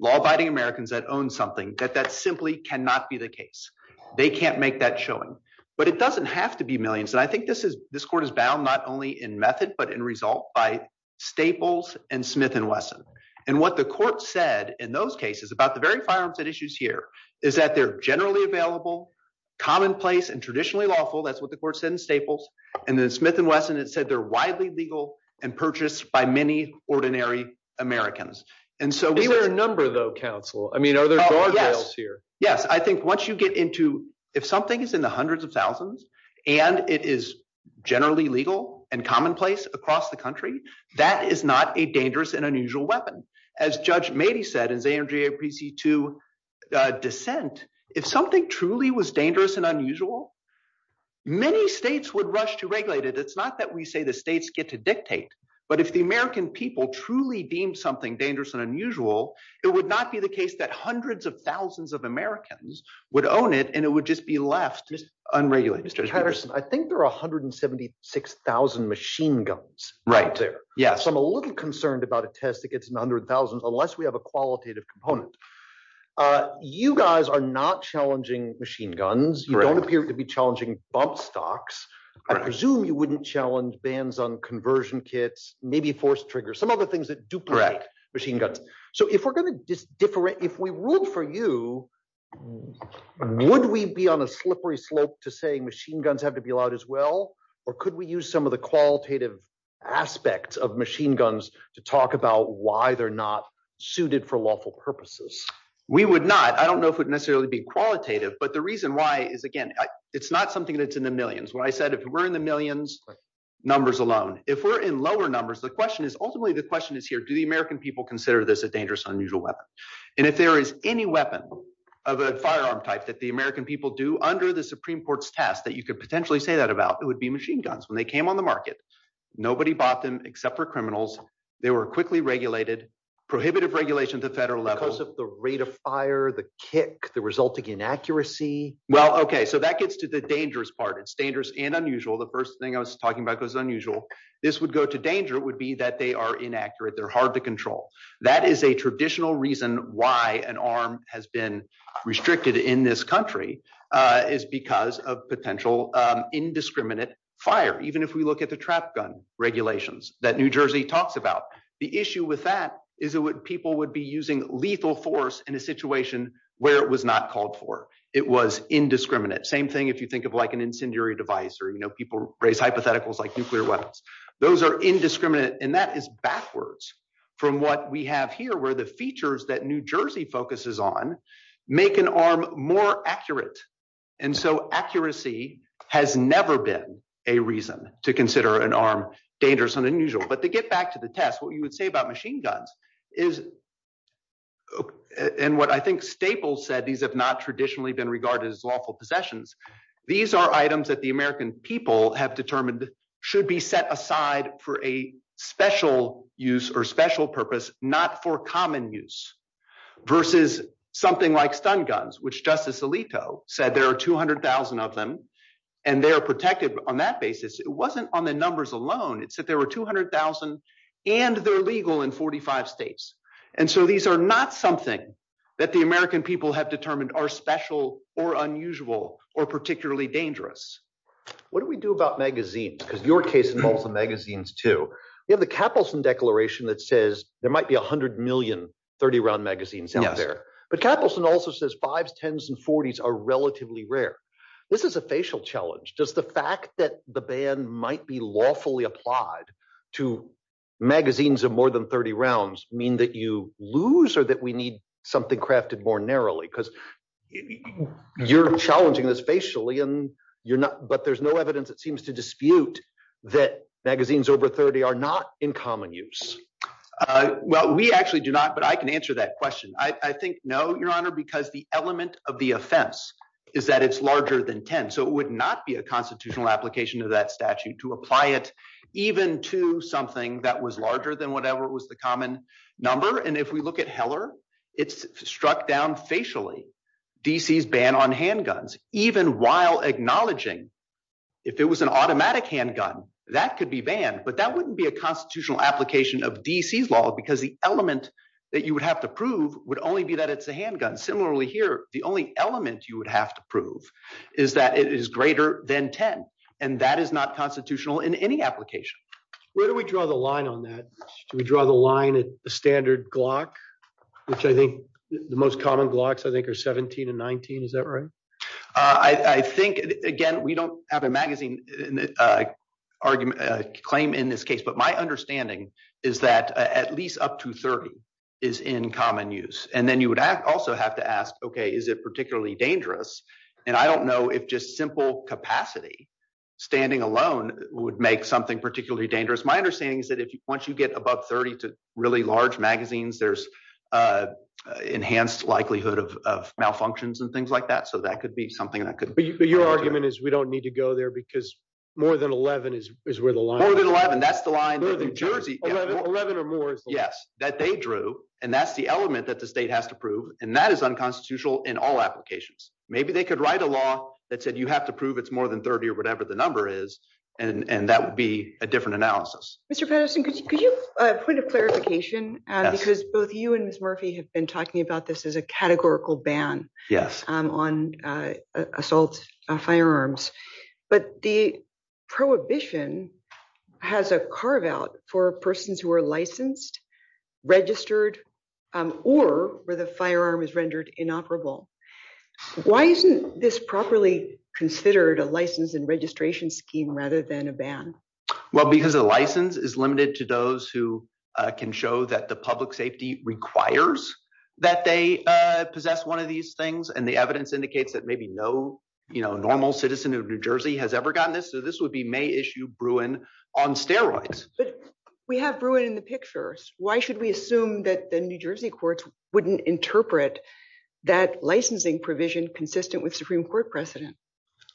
law-abiding Americans, that own something, that that simply cannot be the case. They can't make that showing. But it doesn't have to be millions. And I think this court is bound not only in method but in result by Staples and Smith and Wesson. And what the court said in those cases about the very firearms at issues here is that they're generally available, commonplace, and traditionally lawful. That's what the court said in Staples. And then Smith and Wesson, it said they're widely legal and purchased by many ordinary Americans. And so we were a number, though, counsel. I mean, are there guardrails here? Yes. I think once you get into if something is in the hundreds of thousands and it is generally legal and commonplace across the country, that is not a dangerous and unusual weapon. As Judge Patterson said, if something was dangerous and unusual, many states would rush to regulate it. It's not that we say the states get to dictate. But if the American people truly deem something dangerous and unusual, it would not be the case that hundreds of thousands of Americans would own it and it would just be left unregulated. Mr. Patterson, I think there are 176,000 machine guns out there. So I'm a little concerned about a test that gets to 100,000 unless we have a machine gun. You don't appear to be challenging bump stocks. I presume you wouldn't challenge bans on conversion kits, maybe force triggers, some other things that duplicate machine guns. So if we're going to just different, if we ruled for you, would we be on a slippery slope to saying machine guns have to be allowed as well? Or could we use some of the qualitative aspects of machine guns to talk about why they're not suited for lawful purposes? We would not. I don't know if it would necessarily be qualitative. But the reason why is, again, it's not something that's in the millions. What I said, if we're in the millions, numbers alone. If we're in lower numbers, the question is, ultimately, the question is here, do the American people consider this a dangerous, unusual weapon? And if there is any weapon of a firearm type that the American people do under the Supreme Court's test that you could potentially say that about, it would be machine guns. When they came on the market, nobody bought them except for criminals. They were quickly regulated, prohibitive regulations at federal level. Because of the rate of fire, the kick, the resulting inaccuracy. Well, okay. So that gets to the dangerous part. It's dangerous and unusual. The first thing I was talking about was unusual. This would go to danger would be that they are inaccurate. They're hard to control. That is a traditional reason why an arm has been restricted in this country is because of potential indiscriminate fire. Even if we look at the trap gun regulations that New Jersey talks about, the issue with that is people would be using lethal force in a situation where it was not called for. It was indiscriminate. Same thing if you think of an incendiary device or people raise hypotheticals like nuclear weapons. Those are indiscriminate. And that is backwards from what we have here, where the features that New Jersey focuses on make an arm more accurate. And so accuracy has never been a reason to consider an arm dangerous and unusual. But to get back to the test, what you would say about machine guns is, and what I think Staples said, these have not traditionally been regarded as lawful possessions. These are items that the American people have determined should be set aside for a special use or special purpose, not for common use. Versus something like stun guns, which Justice Alito said there are 200,000 of them, and they are protected on that basis. It wasn't on the numbers alone. It said there were 200,000, and they're legal in 45 states. And so these are not something that the American people have determined are special or unusual or particularly dangerous. What do we do about magazines? Because your case involves the magazines too. You have the Capitalism Declaration that says there might be 100 million 30-round magazines out there. But Capitalism also says fives, tens, and forties are relatively rare. This is a facial challenge. Does the fact that the ban might be lawfully applied to magazines of more than 30 rounds mean that you lose or that we need something crafted more narrowly? Because you're challenging this facially, but there's evidence that seems to dispute that magazines over 30 are not in common use. Well, we actually do not, but I can answer that question. I think no, Your Honor, because the element of the offense is that it's larger than 10. So it would not be a constitutional application of that statute to apply it even to something that was larger than whatever was the common number. And if we look at Heller, it's struck down facially, D.C.'s ban on handguns, even while acknowledging if it was an automatic handgun, that could be banned. But that wouldn't be a constitutional application of D.C.'s law because the element that you would have to prove would only be that it's a handgun. Similarly here, the only element you would have to prove is that it is greater than 10, and that is not constitutional in any application. Where do we draw the line on that? We draw the line at the standard Glock, which I think the most common Glocks I think are 17 and 19. Is that right? I think, again, we don't have a magazine claim in this case, but my understanding is that at least up to 30 is in common use. And then you would also have to ask, okay, is it particularly dangerous? And I don't know if just simple capacity, standing alone, would make something particularly dangerous. My understanding is that once you get above 30 to really large magazines, there's enhanced likelihood of malfunctions and things like that. So that could be something that could- But your argument is we don't need to go there because more than 11 is where the line- More than 11, that's the line in New Jersey- 11 or more. Yes, that they drew, and that's the element that the state has to prove, and that is unconstitutional in all applications. Maybe they could write a law that said you have to prove it's more than 30 or whatever the number is, and that would be a different analysis. Mr. Patterson, could you put a clarification? Because both you and Ms. Murphy have been talking about this as a categorical ban on assault firearms, but the prohibition has a carve-out for persons who are licensed, registered, or where the firearm is rendered inoperable. Why isn't this properly considered a license and registration scheme rather than a ban? Well, because the license is limited to those who can show that the public safety requires that they possess one of these things, and the evidence indicates that maybe no normal citizen of New Jersey has ever gotten this. So this would be May issue Bruin on steroids. We have Bruin in the pictures. Why should we assume that the New Jersey courts wouldn't interpret that licensing provision consistent with Supreme Court precedent?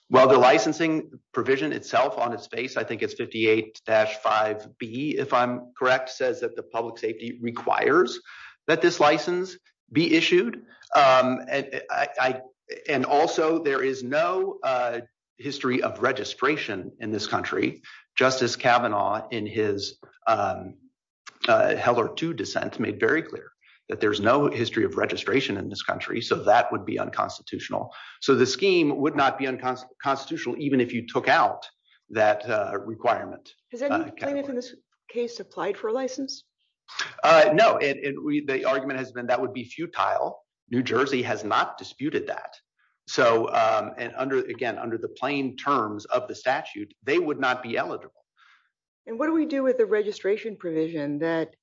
Well, the licensing provision itself on its face, I think it's 58-5B, if I'm correct, says that the public safety requires that this license be issued, and also there is no history of registration in this country. Justice Kavanaugh in his Heller 2 dissent made very clear that there's no history of registration in this country, so that would be unconstitutional. So the scheme would not be unconstitutional even if you took out that requirement. Does that mean that this case applied for a license? No, the argument has been that would be futile. New Jersey has not disputed that. So again, under the plain terms of the statute, they would not be eligible. And what do we do with the registration provision that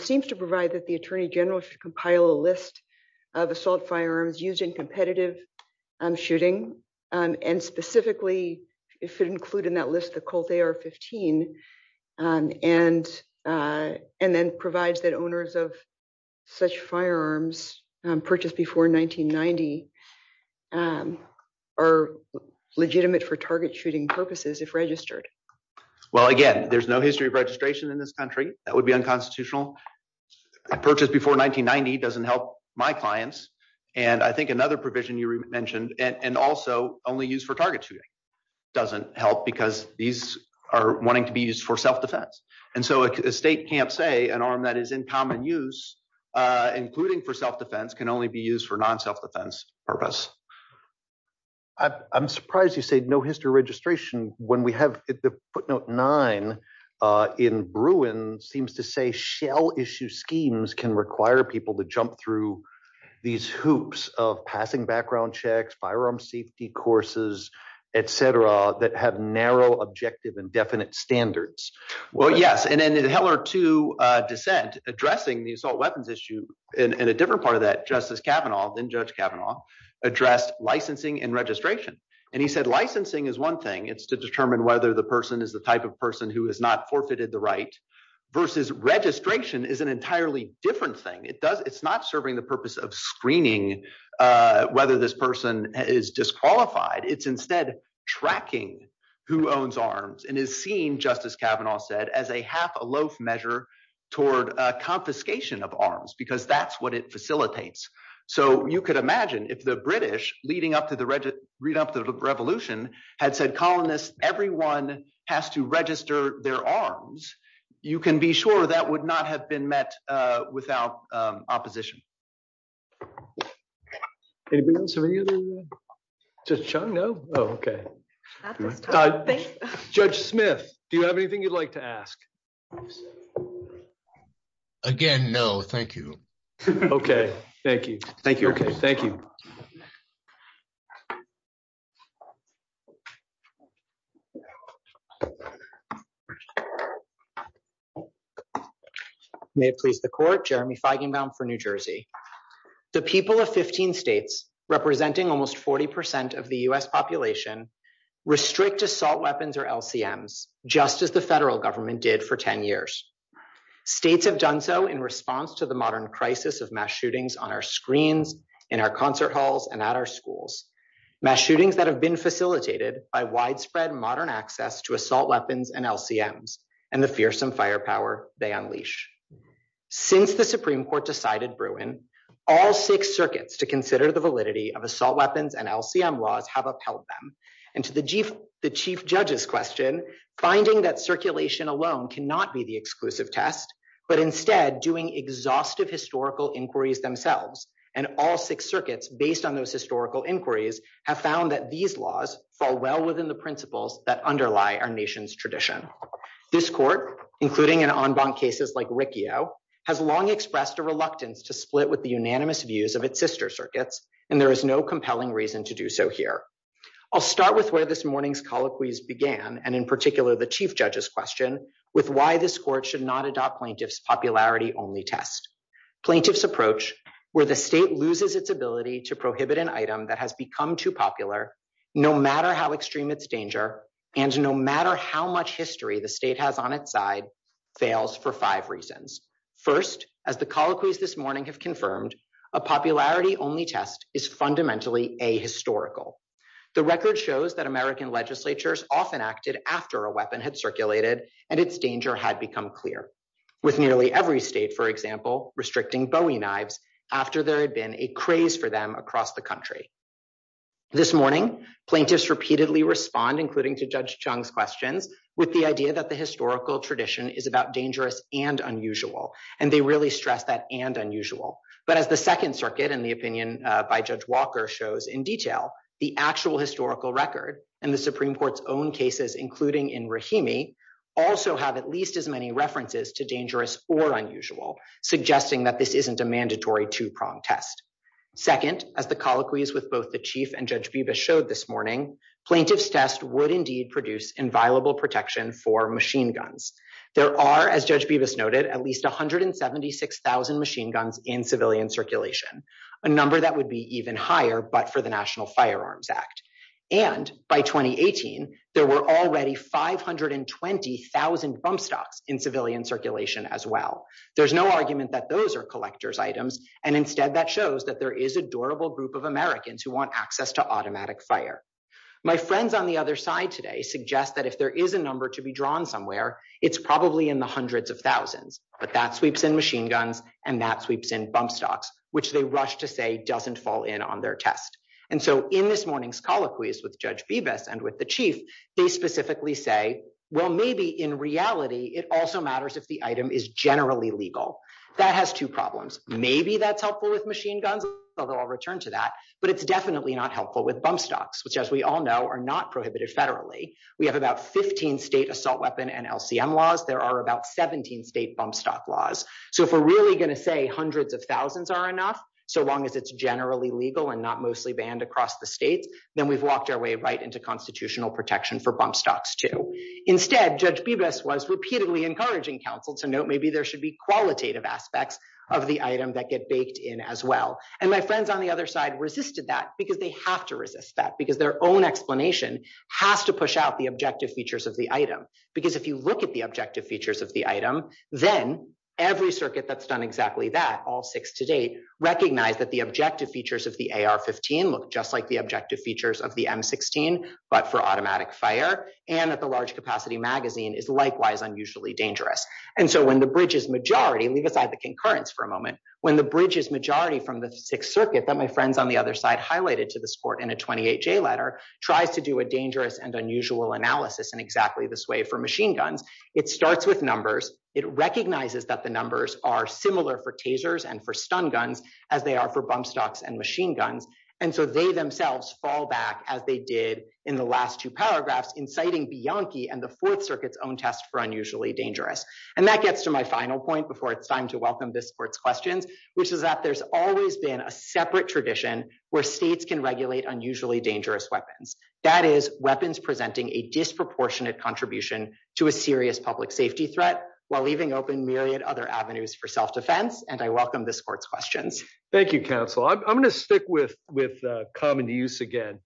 seems to provide that the attorney general should compile a list of assault firearms used in competitive shooting, and specifically it should include in that list the Colt AR-15, and then provide that owners of such firearms purchased before 1990 are legitimate for target shooting purposes if registered? Well, again, there's no history of registration in this country. That would be unconstitutional. Approaches before 1990 doesn't help my clients, and I think another provision you mentioned, and also only used for target shooting doesn't help because these are wanting to be used for self-defense. And so a state can't say an arm that is in common use, including for self-defense, can only be used for non-self-defense purpose. I'm surprised you said no history of registration when we have the footnote nine in Bruins seems to say shell issue schemes can require people to jump through these hoops of passing background checks, firearm safety courses, et cetera, that have narrow objective and definite standards. Well, yes, and then in Heller 2 descent addressing the assault weapons issue, and a different part of that, Justice Kavanaugh, then Judge Kavanaugh, addressed licensing and registration. And he said licensing is one thing. It's to determine whether the person is the type of person who has not forfeited the right versus registration is an entirely different thing. It's not serving the purpose of screening whether this person is disqualified. It's instead tracking who owns arms and is seen, Justice Kavanaugh said, as a half a loaf measure toward confiscation of arms because that's what it facilitates. So you could imagine if the British leading up to the revolution had said, colonists, everyone has to register their arms, you can be sure that would not have been met without opposition. Anything else for you? No? Oh, okay. Judge Smith, do you have anything you'd like to ask? Again, no. Thank you. Okay. Thank you. Thank you. May it please the court. Jeremy Feigenbaum for New Jersey. The people of 15 states representing almost 40% of the US population restrict assault weapons or LCMs just as the federal government did for 10 years. States have done so in response to the modern crisis of mass shootings on our screens, in our concert halls and at our schools. Mass shootings that have been facilitated by widespread modern access to assault weapons and LCMs and the fearsome firepower they unleash. Since the Supreme Court decided Bruin, all six circuits to consider the validity of assault and to the chief judge's question, finding that circulation alone cannot be the exclusive test, but instead doing exhaustive historical inquiries themselves. And all six circuits, based on those historical inquiries, have found that these laws fall well within the principles that underlie our nation's tradition. This court, including in en banc cases like Riccio, has long expressed a reluctance to split with the unanimous views of its sister circuits, and there is no compelling reason to do so here. I'll start with where this morning's colloquies began, and in particular the chief judge's question with why this court should not adopt plaintiff's popularity only test. Plaintiff's approach, where the state loses its ability to prohibit an item that has become too popular, no matter how extreme its danger, and no matter how much history the state has on its side, fails for five reasons. First, as the colloquies this morning have confirmed, a popularity only test is fundamentally ahistorical. The record shows that American legislatures often acted after a weapon had circulated and its danger had become clear, with nearly every state, for example, restricting bowie knives after there had been a craze for them across the country. This morning, plaintiffs repeatedly respond, including to Judge Chung's question, with the idea that the historical tradition is about dangerous and unusual, and they really stress that and unusual. But as the second circuit and the opinion by Judge Walker shows in detail, the actual historical record and the Supreme Court's own cases, including in Rahimi, also have at least as many references to dangerous or unusual, suggesting that this isn't a mandatory two-prong test. Second, as the colloquies with both the chief and Judge Vebas showed this morning, plaintiff's test would indeed produce inviolable protection for machine guns. There are, as Judge Vebas noted, at least 176,000 machine guns in civilian circulation, a number that would be even higher but for the National Firearms Act. And by 2018, there were already 520,000 bump stocks in civilian circulation as well. There's no argument that those are collector's items, and instead that shows that there is a durable group of Americans who want access to automatic fire. My friends on the other side today suggest that if there is a number to be drawn somewhere, it's probably in the hundreds of thousands, but that sweeps in machine guns and that sweeps in bump stocks, which they rush to say doesn't fall in on their test. And so in this morning's colloquies with Judge Vebas and with the chief, they specifically say, well, maybe in reality it also matters if the item is generally legal. That has two problems. Maybe that's helpful with machine guns, although I'll return to that, but it's definitely not helpful with bump stocks, which as we all know are not prohibited federally. We have about 15 state assault weapon and LCM laws. There are about 17 state bump stock laws. So if we're really going to say hundreds of thousands are enough, so long as it's generally legal and not mostly banned across the state, then we've walked our way right into constitutional protection for bump stocks too. Instead, Judge Vebas was repeatedly encouraging counsel to note maybe there should be qualitative aspects of the item that get baked in as well. And my friends on the other side resisted that because they have to resist that because their own explanation has to push out the objective features of the item. Because if you look at the objective features of the item, then every circuit that's done exactly that, all six to date, recognize that the objective features of the AR-15 look just like the objective features of the M-16, but for automatic fire and at the large capacity magazine is likewise unusually dangerous. And so when the bridge is majority, leave aside the concurrence for a moment, when the bridge is majority from the Sixth Circuit that my friends on the other side highlighted to the support in a 28-J letter, tries to do a dangerous and unusual analysis in exactly this way for machine guns, it starts with numbers. It recognizes that the numbers are similar for tasers and for stun guns as they are for bump stocks and machine guns. And so they themselves fall back as they did in the last two paragraphs inciting Bianchi and the Fourth Circuit's own test for unusually dangerous. And that gets to my final point before it's time to welcome this court's questions, which is that there's always been a separate tradition where states can regulate unusually dangerous weapons. That is weapons presenting a disproportionate contribution to a serious public safety threat while leaving open myriad other avenues for self-defense. And I welcome this court's questions. Thank you, counsel. I'm going to stick with with common use again.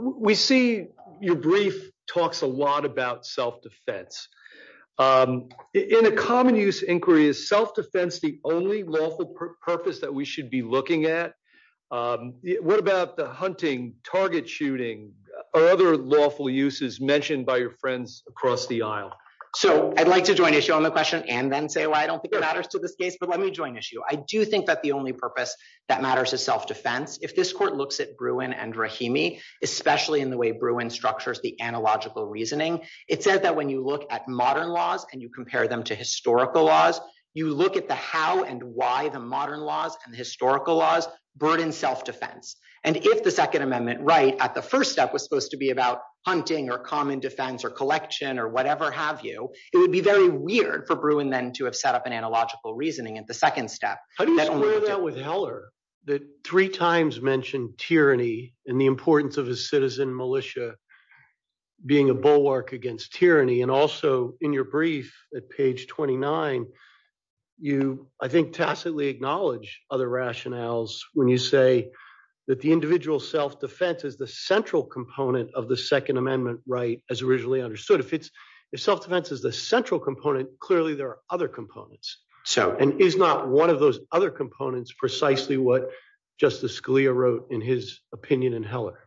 We see your brief talks a lot about self-defense. In a common use inquiry, is self-defense the only lawful purpose that we should be looking at? What about the hunting, target shooting, or other lawful uses mentioned by your friends across the aisle? So I'd like to show them a question and then say why I don't think it matters to this case. But let me join issue. I do think that the only purpose that matters is self-defense. If this court looks at Bruin and Rahimi, especially in the way Bruin structures the analogical reasoning, it says that when you look at modern laws and you compare them to historical laws, you look at the how and why the modern laws and historical laws burden self-defense. And if the Second Amendment right at the first step was supposed to be about hunting or common defense or collection or whatever have you, it would be very weird for Bruin then to have set up an analogical reasoning at the second step. How do you compare that with Heller that three times mentioned tyranny and the importance of a citizen militia being a bulwark against tyranny? And also in your brief at page 29, you I think tacitly acknowledge other rationales when you say that the individual self-defense is the central component of the Second Amendment right as originally understood. If self-defense is the central component, clearly there are other components. And is not one of those other components precisely what Justice Scalia wrote in his opinion in Heller?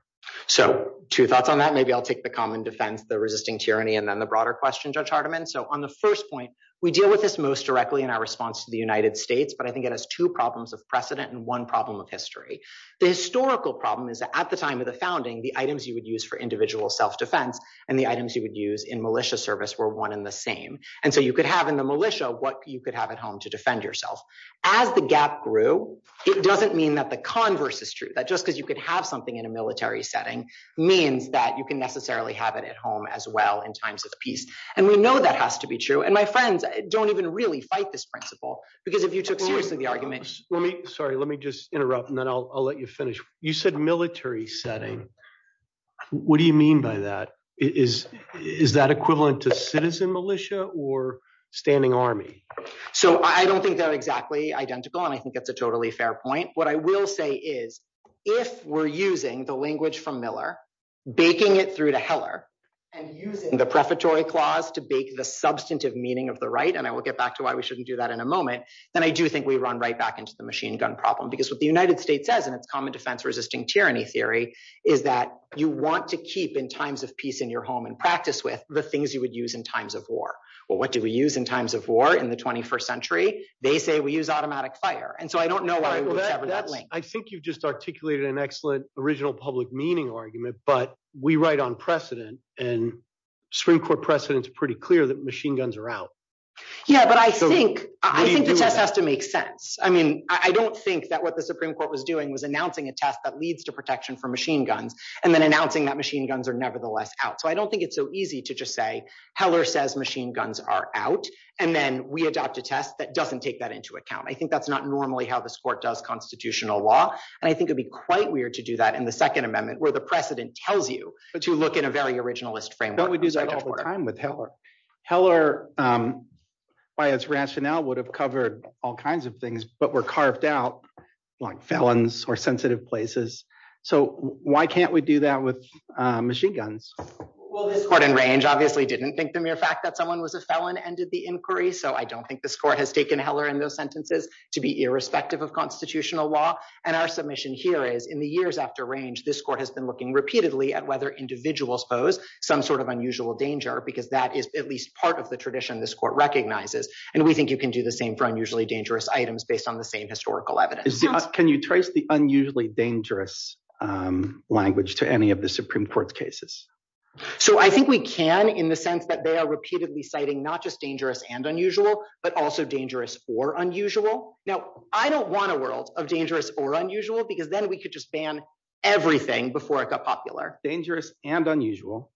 So two thoughts on that. Maybe I'll take the common defense, the resisting tyranny, and then the broader question, Judge Hardiman. So on the first point, we deal with this most directly in our response to the United States, but I think it has two problems of precedent and one problem of history. The historical problem is that at the time of the items you would use for individual self-defense and the items you would use in militia service were one and the same. And so you could have in the militia what you could have at home to defend yourself. As the gap grew, it doesn't mean that the converse is true. That just because you could have something in a military setting means that you can necessarily have it at home as well in times of peace. And we know that has to be true. And my friends don't even really fight this principle because if you took the arguments... Sorry, let me just interrupt and then I'll let you finish. You said military setting. What do you mean by that? Is that equivalent to citizen militia or standing army? So I don't think they're exactly identical, and I think that's a totally fair point. What I will say is if we're using the language from Miller, baking it through to Heller and using the prefatory clause to bake the substantive meaning of the right, and I will get back to why we shouldn't do that in a moment, then I do think we run right back into the machine gun problem. Because what the United States says in its common defense resisting tyranny theory is that you want to keep in times of peace in your home and practice with the things you would use in times of war. Well, what do we use in times of war in the 21st century? They say we use automatic fire. And so I don't know why we would cover that link. I think you've just articulated an excellent original public meaning argument, but we write on precedent and Supreme Court precedents are pretty clear that machine guns are out. Yeah, but I think that has to make sense. I mean, I don't think that what the Supreme Court was doing was announcing a test that leads to protection for machine guns, and then announcing that machine guns are nevertheless out. So I don't think it's so easy to just say Heller says machine guns are out, and then we adopt a test that doesn't take that into account. I think that's not normally how this Court does constitutional law, and I think it'd be quite weird to do that in the Second Amendment where the precedent tells you to look at a very originalist framework. Don't we lose a lot of time with Heller? Heller, by its rationale, would have covered all kinds of things, but were carved out like felons or sensitive places. So why can't we do that with machine guns? Well, this Court in range obviously didn't think the mere fact that someone was a felon ended the inquiry. So I don't think this Court has taken Heller and those sentences to be irrespective of constitutional law. And our submission here is in the years after range, this Court has been looking repeatedly at whether individuals pose some sort of unusual danger, because that is at least part of the tradition this Court recognizes. And we think you can do the same for unusually dangerous items based on the same historical evidence. Can you trace the unusually dangerous language to any of the Supreme Court's cases? So I think we can in the sense that they are repeatedly citing not just dangerous and unusual, but also dangerous or unusual. Now, I don't want a world of dangerous or unusual, because then we could just ban everything before it got popular. Dangerous and unusual,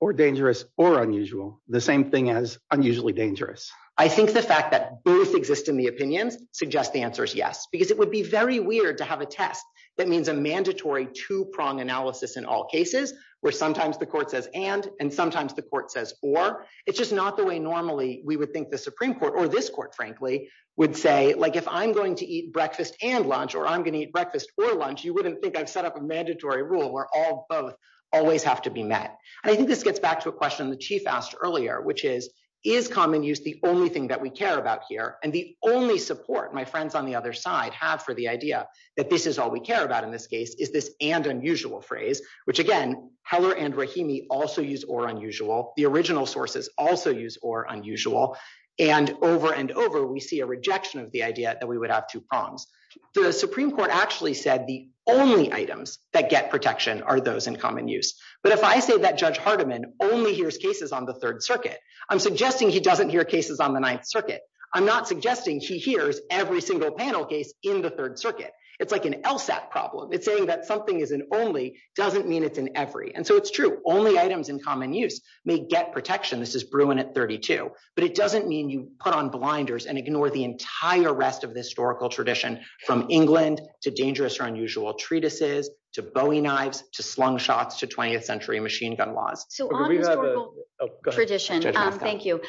or dangerous or unusual, the same thing as unusually dangerous. I think the fact that both exist in the opinion suggest the answer is yes, because it would be very weird to have a test that means a mandatory two-prong analysis in all cases, where sometimes the Court says and, and sometimes the Court says or. It's just not the way normally we would think the Supreme Court or this Court, frankly, would say, like, if I'm going to eat breakfast and lunch, or I'm going to eat breakfast or lunch, you wouldn't think I've set up a always have to be met. I think this gets back to a question the Chief asked earlier, which is, is common use the only thing that we care about here? And the only support my friends on the other side have for the idea that this is all we care about in this case, is this and unusual phrase, which again, Heller and Rahimi also use or unusual, the original sources also use or unusual. And over and over, we see a rejection of the idea that we would have two prongs. The Supreme Court actually said the only items that get protection are those in common use. But if I say that Judge Hardiman only hears cases on the Third Circuit, I'm suggesting he doesn't hear cases on the Ninth Circuit. I'm not suggesting she hears every single panel case in the Third Circuit. It's like an LSAT problem. It's saying that something is an only doesn't mean it's an every. And so it's true. Only items in common use may get protection. This is Bruin at 32, but it doesn't mean you put on blinders and ignore the entire rest of the historical tradition from England to dangerous or unusual treatises, to Bowie knives, to slung shots, to 20th century machine gun laws. So we have a tradition. Thank you.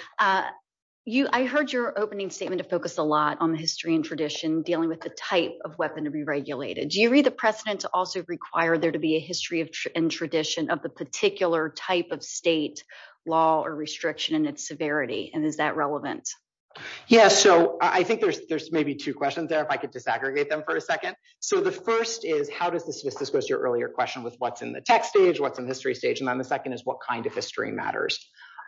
I heard your opening statement to focus a lot on the history and tradition dealing with the type of weapon to be regulated. Do you read the precedents also require there to be a history and tradition of the particular type of state law or restriction and its severity? And is that relevant? Yeah. So I think there's maybe two questions there, if I could disaggregate them for a second. So the first is, how does this discuss your earlier question with what's in the text stage, what's in the history stage, and then the second is what kind of history matters.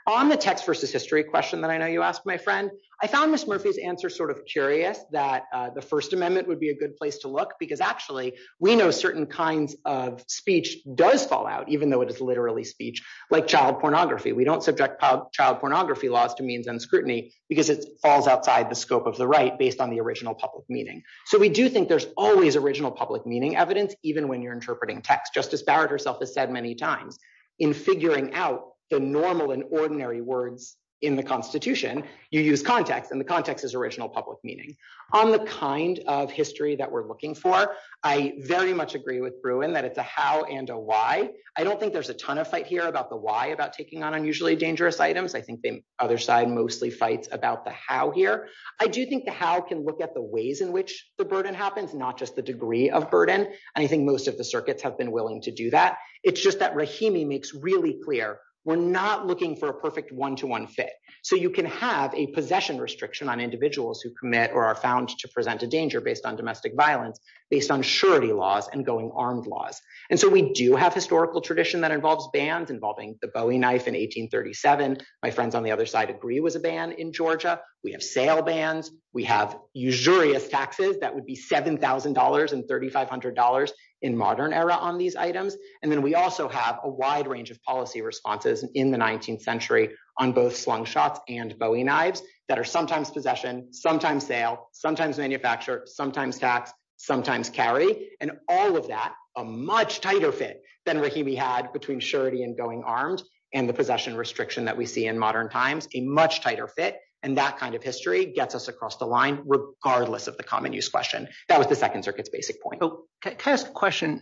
On the text versus history question that I know you asked, my friend, I found Ms. Murphy's answer sort of curious that the First Amendment would be a good place to look because actually we know certain kinds of speech does fall out, even though it's literally speech, like child pornography. We don't subject child pornography laws to means and scrutiny because it falls outside the scope of the right based on the original public meaning. So we do think there's always original public meaning evidence, even when you're interpreting text. Justice Barrett herself has said many times in figuring out the normal and ordinary words in the constitution, you use context and the context is original public meaning. On the kind of history that we're looking for, I very much agree with Bruin that it's a how and a why. I don't think there's a ton of fight here about the why about taking on unusually dangerous items. I think the other side mostly fights about the how here. I do think the how can look at the ways in which the burden happens, not just the degree of burden. I think most of the circuits have been willing to do that. It's just that Rahimi makes really clear, we're not looking for a perfect one-to-one fit. So you can have a possession restriction on individuals who commit or are found to present a danger based on domestic violence based on surety laws and going armed laws. And so we do have historical tradition that involves bans involving the Bowie knife in 1837. My friends on the other side agree it was a ban in Georgia. We have sale bans. We have usurious taxes that would be $7,000 and $3,500 in modern era on these items. And then we also have a wide range of policy responses in the 19th century on both slung shots and Bowie knives that are sometimes possession, sometimes sale, sometimes manufacture, sometimes tax, sometimes carry. And all of that, a much tighter fit than Rahimi had between surety and going arms and the possession restriction that we see in modern times, a much tighter fit. And that kind of history gets us across the line regardless of the common use question. That was the second circuit's basic point. Can I ask a question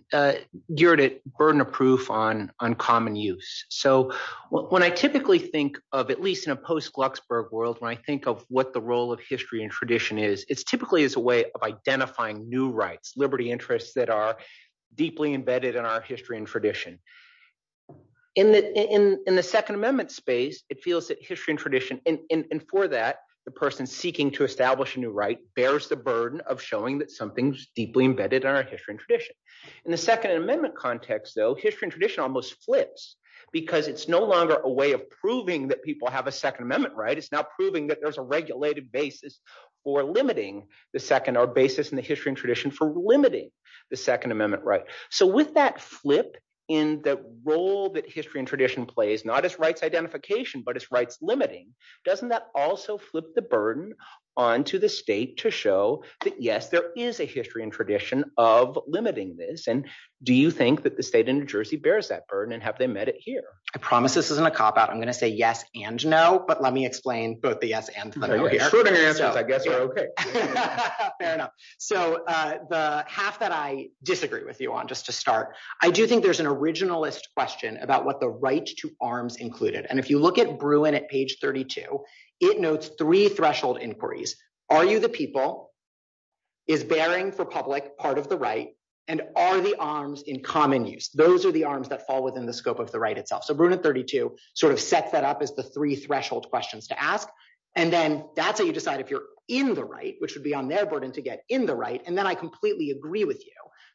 geared at burden of proof on uncommon use? So when I typically think of, at least in a post-Glucksberg world, when I typically think of history as a way of identifying new rights, liberty interests that are deeply embedded in our history and tradition. In the Second Amendment space, it feels that history and tradition, and for that, the person seeking to establish a new right, bears the burden of showing that something's deeply embedded in our history and tradition. In the Second Amendment context, though, history and tradition almost flips because it's no longer a way of proving that people have a Second Amendment right. It's now proving that there's a regulated basis for limiting the Second Amendment, or basis in the history and tradition for limiting the Second Amendment right. So with that flip in the role that history and tradition plays, not as rights identification, but as rights limiting, doesn't that also flip the burden onto the state to show that, yes, there is a history and tradition of limiting this? And do you think that the state of New Jersey bears that burden, and have they met it here? I promise this isn't a cop-out. I'm going to say yes and no, but let me explain both the answers. So the half that I disagree with you on, just to start, I do think there's an originalist question about what the right to arms included. And if you look at Bruin at page 32, it notes three threshold inquiries. Are you the people? Is bearing for public part of the right? And are the arms in common use? Those are the arms that fall within the scope of the right itself. So sort of sets that up as the three threshold questions to ask. And then that's how you decide if you're in the right, which would be on their burden to get in the right. And then I completely agree with you.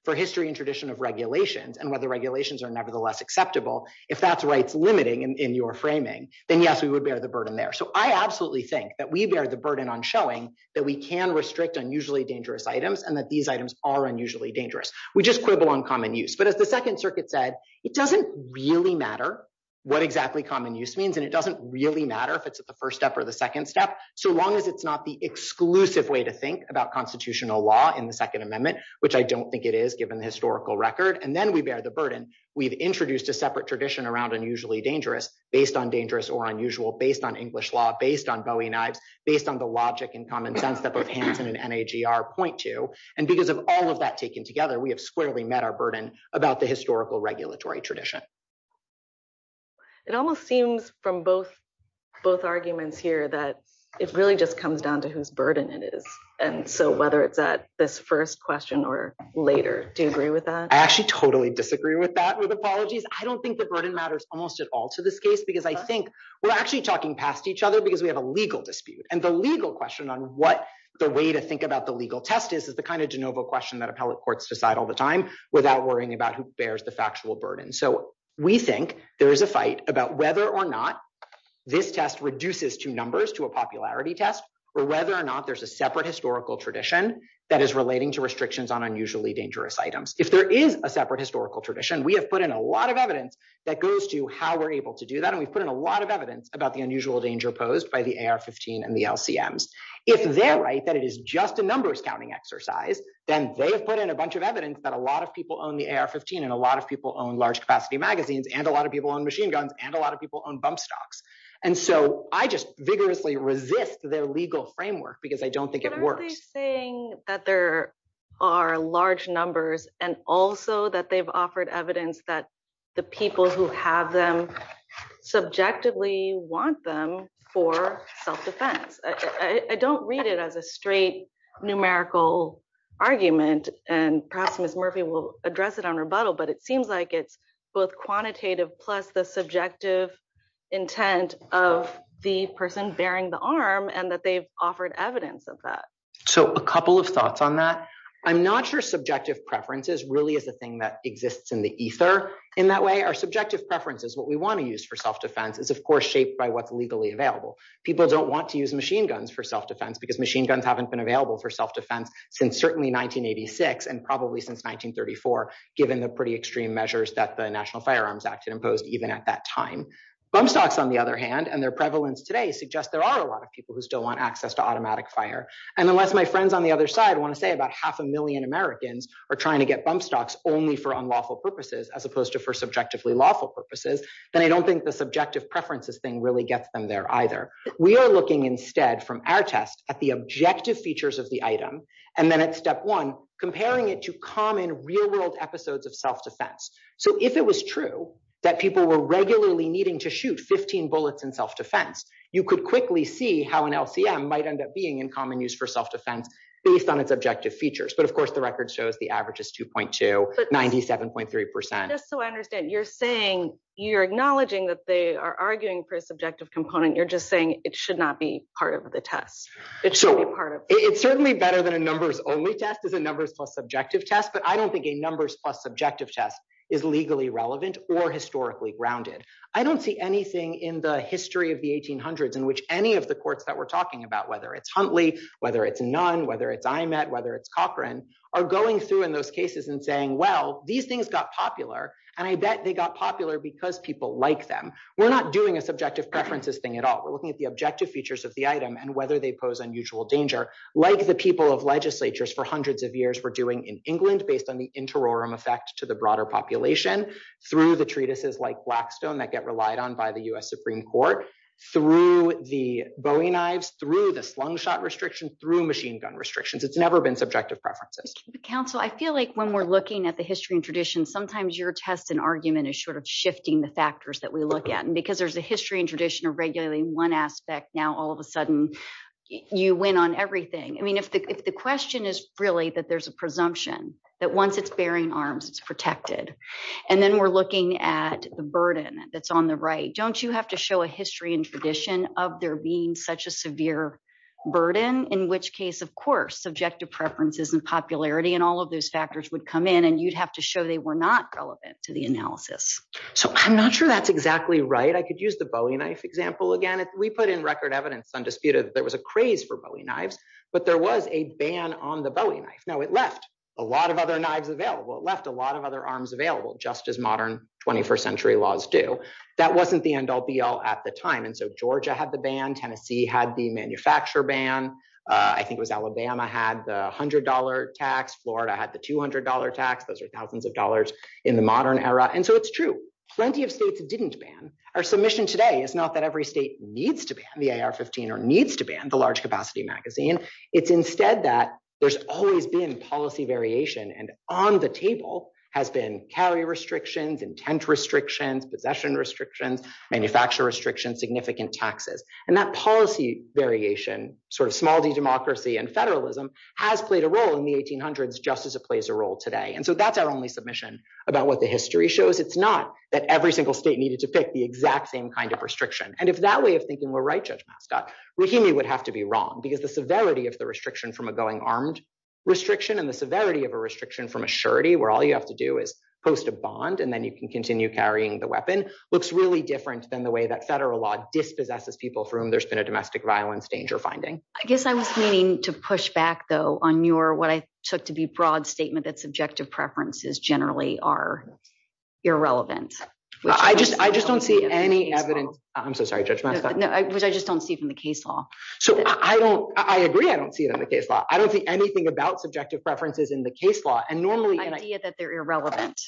For history and tradition of regulations, and whether regulations are nevertheless acceptable, if that's rights limiting in your framing, then yes, we would bear the burden there. So I absolutely think that we bear the burden on showing that we can restrict unusually dangerous items, and that these items are unusually dangerous. We just quibble on common use. But as the Second Circuit said, it doesn't really matter what exactly common use means. And it doesn't really matter if it's the first step or the second step, so long as it's not the exclusive way to think about constitutional law in the Second Amendment, which I don't think it is given the historical record. And then we bear the burden. We've introduced a separate tradition around unusually dangerous, based on dangerous or unusual, based on English law, based on Bowie and Ives, based on the logic and common sense that the panthers and NAGR point to. And because of all that taken together, we have squarely met our burden about the historical regulatory tradition. It almost seems from both arguments here that it really just comes down to whose burden it is. And so whether that this first question or later, do you agree with that? I actually totally disagree with that, with apologies. I don't think the burden matters almost at all to this case, because I think we're actually talking past each other because we have a legal dispute. And the legal question on what the way to think about the legal test is, is the kind of question that appellate courts decide all the time without worrying about who bears the factual burden. So we think there is a fight about whether or not this test reduces to numbers, to a popularity test, or whether or not there's a separate historical tradition that is relating to restrictions on unusually dangerous items. If there is a separate historical tradition, we have put in a lot of evidence that goes to how we're able to do that. And we've put in a lot of evidence about the unusual danger posed by the AR-15 and the LCMs. If they're right, that it is just a then they have put in a bunch of evidence that a lot of people own the AR-15, and a lot of people own large capacity magazines, and a lot of people own machine guns, and a lot of people own bump stocks. And so I just vigorously resist their legal framework, because I don't think it works. They're saying that there are large numbers, and also that they've offered evidence that the people who have them subjectively want them for self-defense. I don't read it as a straight numerical argument, and perhaps Ms. Murphy will address it on rebuttal, but it seems like it's both quantitative plus the subjective intent of the person bearing the arm, and that they've offered evidence of that. So a couple of thoughts on that. I'm not sure subjective preferences really is a thing that exists in the ether in that way. Our subjective preferences, what we want to use for self-defense, is of course shaped by what's legally available. People don't want to use machine guns for self-defense, because machine guns haven't been available for self-defense since certainly 1986, and probably since 1934, given the pretty extreme measures that the National Firearms Act had imposed even at that time. Bump stocks on the other hand, and their prevalence today, suggest there are a lot of people who still want access to automatic fire. And unless my friends on the other side want to say about half a million Americans are trying to get bump stocks only for unlawful purposes, as opposed to for subjectively lawful purposes, then I don't think subjective preferences thing really gets them there either. We are looking instead from our test at the objective features of the item, and then at step one, comparing it to common real-world episodes of self-defense. So if it was true that people were regularly needing to shoot 15 bullets in self-defense, you could quickly see how an LCM might end up being in common use for self-defense based on its objective features. But of course the record shows the average is 2.2, 97.3 percent. So I understand, you're saying, you're acknowledging that they are arguing for a subjective component, you're just saying it should not be part of the test. It should be part of it. It's certainly better than a numbers only test is a numbers plus subjective test, but I don't think a numbers plus subjective test is legally relevant or historically grounded. I don't see anything in the history of the 1800s in which any of the courts that we're talking about, whether it's Huntley, whether it's Nunn, whether it's IMET, whether it's Cochran, are going through in those cases and well, these things got popular. And I bet they got popular because people like them. We're not doing a subjective preferences thing at all. We're looking at the objective features of the item and whether they pose unusual danger. Like the people of legislatures for hundreds of years were doing in England based on the interim effect to the broader population through the treatises like Blackstone that get relied on by the U.S. Supreme Court, through the Bowie knives, through the slingshot restrictions, through machine gun restrictions. It's never been subjective preferences. Counsel, I feel like when we're looking at the history and tradition, sometimes your test and argument is sort of shifting the factors that we look at. And because there's a history and tradition of regulating one aspect, now all of a sudden you went on everything. I mean, if the question is really that there's a presumption that once it's bearing arms, it's protected. And then we're looking at the burden that's on the right. Don't you have to show a history and tradition of there being such a severe burden, in which case, of course, subjective preferences and popularity and all of those factors would come in and you'd have to show they were not relevant to the analysis. So I'm not sure that's exactly right. I could use the Bowie knife example again. We put in record evidence, undisputed, there was a craze for Bowie knives, but there was a ban on the Bowie knife. No, it left a lot of other knives available. It left a lot of other arms available, just as modern 21st century laws do. That wasn't the end all be all at the time. And so Georgia had the ban. Tennessee had the manufacturer ban. I think it was Alabama had the $100 tax. Florida had the $200 tax. Those are thousands of dollars in the modern era. And so it's true. Plenty of states didn't ban. Our submission today is not that every state needs to ban the AR-15 or needs to ban the large capacity magazine. It's instead that there's always been policy variation. And on the table has been carrier restrictions, intent restrictions, possession restrictions, manufacturer restrictions, significant taxes. And that policy variation, sort of small democracy and federalism has played a role in the 1800s, just as it plays a role today. And so that's our only submission about what the history shows. It's not that every single state needed to pick the exact same kind of restriction. And if that way of thinking were right, Judge Mastodt, Rahimi would have to be wrong because the severity of the restriction from a going armed restriction and the severity of a restriction from a surety, where all you have to do is post a bond and then you can continue carrying the weapon, looks really different than the way that federal law dispossesses people from there's been a domestic violence danger finding. I guess I was meaning to push back though on your, what I took to be broad statement that subjective preferences generally are irrelevant. I just don't see any evidence. I'm so sorry, Judge Mastodt. No, I just don't see from the case law. So I don't, I agree. I don't see it in the case law. I don't see anything about subjective preferences in the case law and normally... I see that they're irrelevant.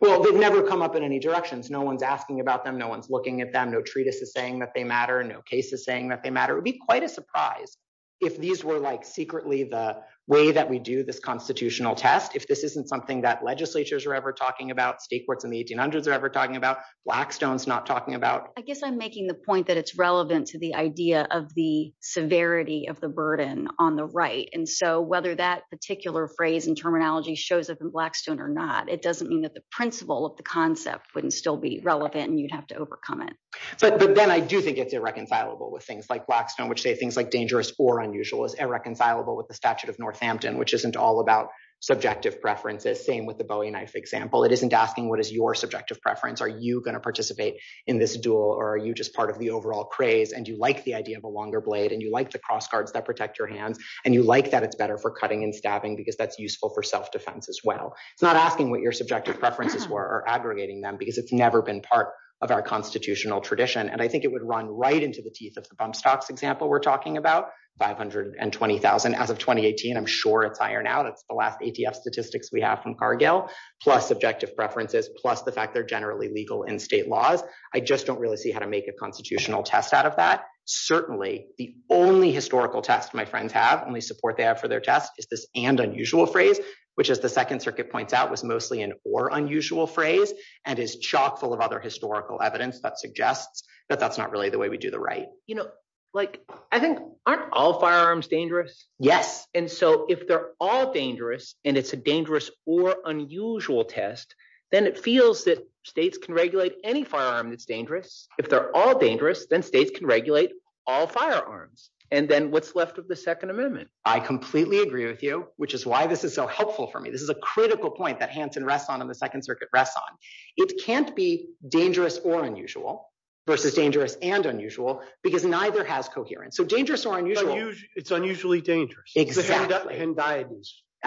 Well, they'd never come up in any directions. No one's asking about them. No one's looking at them. No treatise is saying that they matter. No case is saying that they matter. It would be quite a surprise if these were like secretly the way that we do this constitutional test. If this isn't something that legislatures are ever talking about, state courts in the 1800s are ever talking about, Blackstone's not talking about. I guess I'm making the point that it's relevant to the idea of the severity of the burden on the right. And so whether that particular phrase terminology shows us in Blackstone or not, it doesn't mean that the principle of the concept wouldn't still be relevant and you'd have to overcome it. But then I do think it's irreconcilable with things like Blackstone, which say things like dangerous or unusual is irreconcilable with the statute of Northampton, which isn't all about subjective preferences. Same with the Bowie knife example. It isn't asking what is your subjective preference? Are you going to participate in this duel or are you just part of the overall craze? And you like the idea of a longer blade and you like the cross guards that protect your hand and you like that it's better for cutting and stabbing because that's useful for self-defense as well. It's not asking what your subjective preferences were or aggregating them because it's never been part of our constitutional tradition. And I think it would run right into the teeth of the bump stocks example we're talking about, 520,000 as of 2018. I'm sure it's ironed out. It's the last ATF statistics we have from Cargill, plus subjective preferences, plus the fact they're generally legal in state laws. I just don't really see how to make a constitutional test out of that. Certainly the only historical test my friends have, only support there for their test, is this and unusual phrase, which as the second circuit points out was mostly an or unusual phrase and is chock full of other historical evidence that suggests that that's not really the way we do the right. You know, like I think aren't all firearms dangerous? Yes. And so if they're all dangerous and it's a dangerous or unusual test, then it feels that states can regulate any firearm that's dangerous. If they're all dangerous, then states can regulate all firearms. And then what's left of the second amendment? I completely agree with you, which is why this is so helpful for me. This is a critical point that Hanson rests on in the second circuit rests on. It can't be dangerous or unusual versus dangerous and unusual because neither has coherence. So dangerous or unusual. It's unusually dangerous. Exactly. And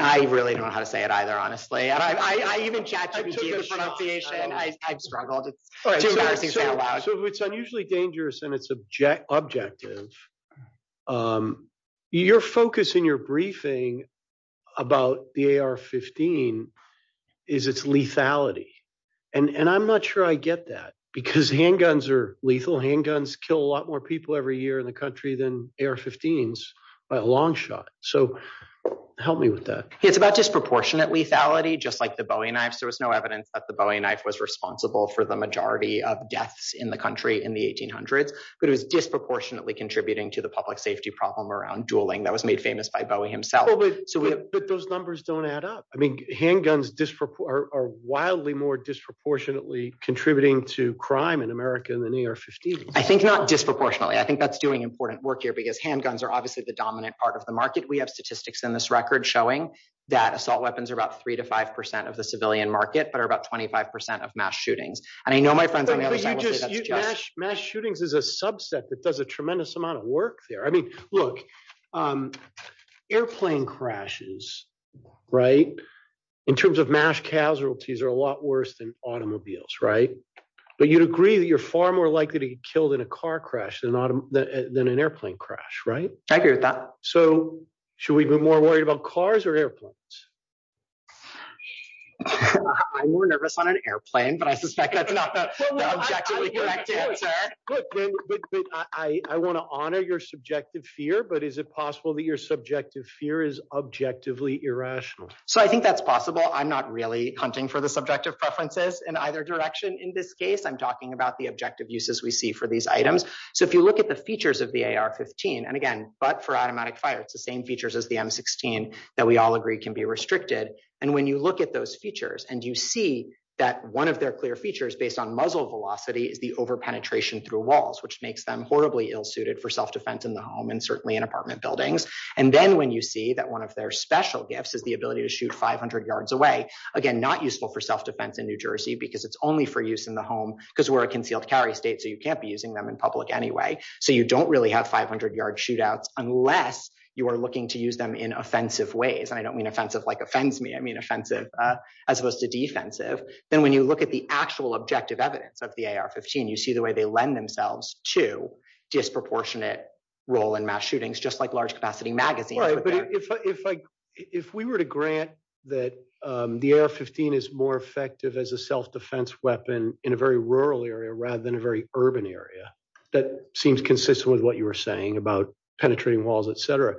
I really don't know how to say it either, honestly. I even chatted with you. So if it's unusually dangerous and it's objective, your focus in your briefing about the AR-15 is its lethality. And I'm not sure I get that because handguns are lethal. Handguns kill a lot more people every year in the country than AR-15s by a long shot. So help me with that. It's about disproportionate lethality, just like the Bowie knife. There was no evidence that the Bowie knife was responsible for the of deaths in the country in the 1800s, but it was disproportionately contributing to the public safety problem around dueling that was made famous by Bowie himself. But those numbers don't add up. I mean, handguns are wildly more disproportionately contributing to crime in America than AR-15. I think not disproportionately. I think that's doing important work here because handguns are obviously the dominant part of the market. We have statistics in this record showing that assault weapons are about three to 5% of the civilian market, but are about 25% of mass shootings. I know my friends... Mass shootings is a subset that does a tremendous amount of work there. I mean, look, airplane crashes, right? In terms of mass casualties are a lot worse than automobiles, right? But you'd agree that you're far more likely to get killed in a car crash than an airplane crash, right? I agree with that. So should we be more worried about cars or airplanes? I'm more nervous on an airplane, but I suspect that's not the objective direction, sir. Good. I want to honor your subjective fear, but is it possible that your subjective fear is objectively irrational? So I think that's possible. I'm not really hunting for the subjective preferences in either direction. In this case, I'm talking about the objective uses we see for these items. So if you look at the features of the AR-15, and again, but for automatic fire, it's the same features as the M-16 that we all agree can be restricted. And when you look at those features and you see that one of their clear features based on muzzle velocity is the over-penetration through walls, which makes them horribly ill-suited for self-defense in the home and certainly in apartment buildings. And then when you see that one of their special gifts is the ability to shoot 500 yards away, again, not useful for self-defense in New Jersey because it's only for use in the home because we're a concealed carry state, so you can't be using them in public anyway. So you don't really have 500 yard shootouts unless you are looking to use them in offensive ways. And I don't mean offensive like offends me, I mean offensive as opposed to defensive. Then when you look at the actual objective evidence of the AR-15, you see the way they lend themselves to disproportionate role in mass shootings, just like large capacity magazines. Right. But if we were to grant that the AR-15 is more effective as a self-defense weapon in a very rural area rather than a very urban area, that seems consistent with what you were saying about penetrating walls, etc.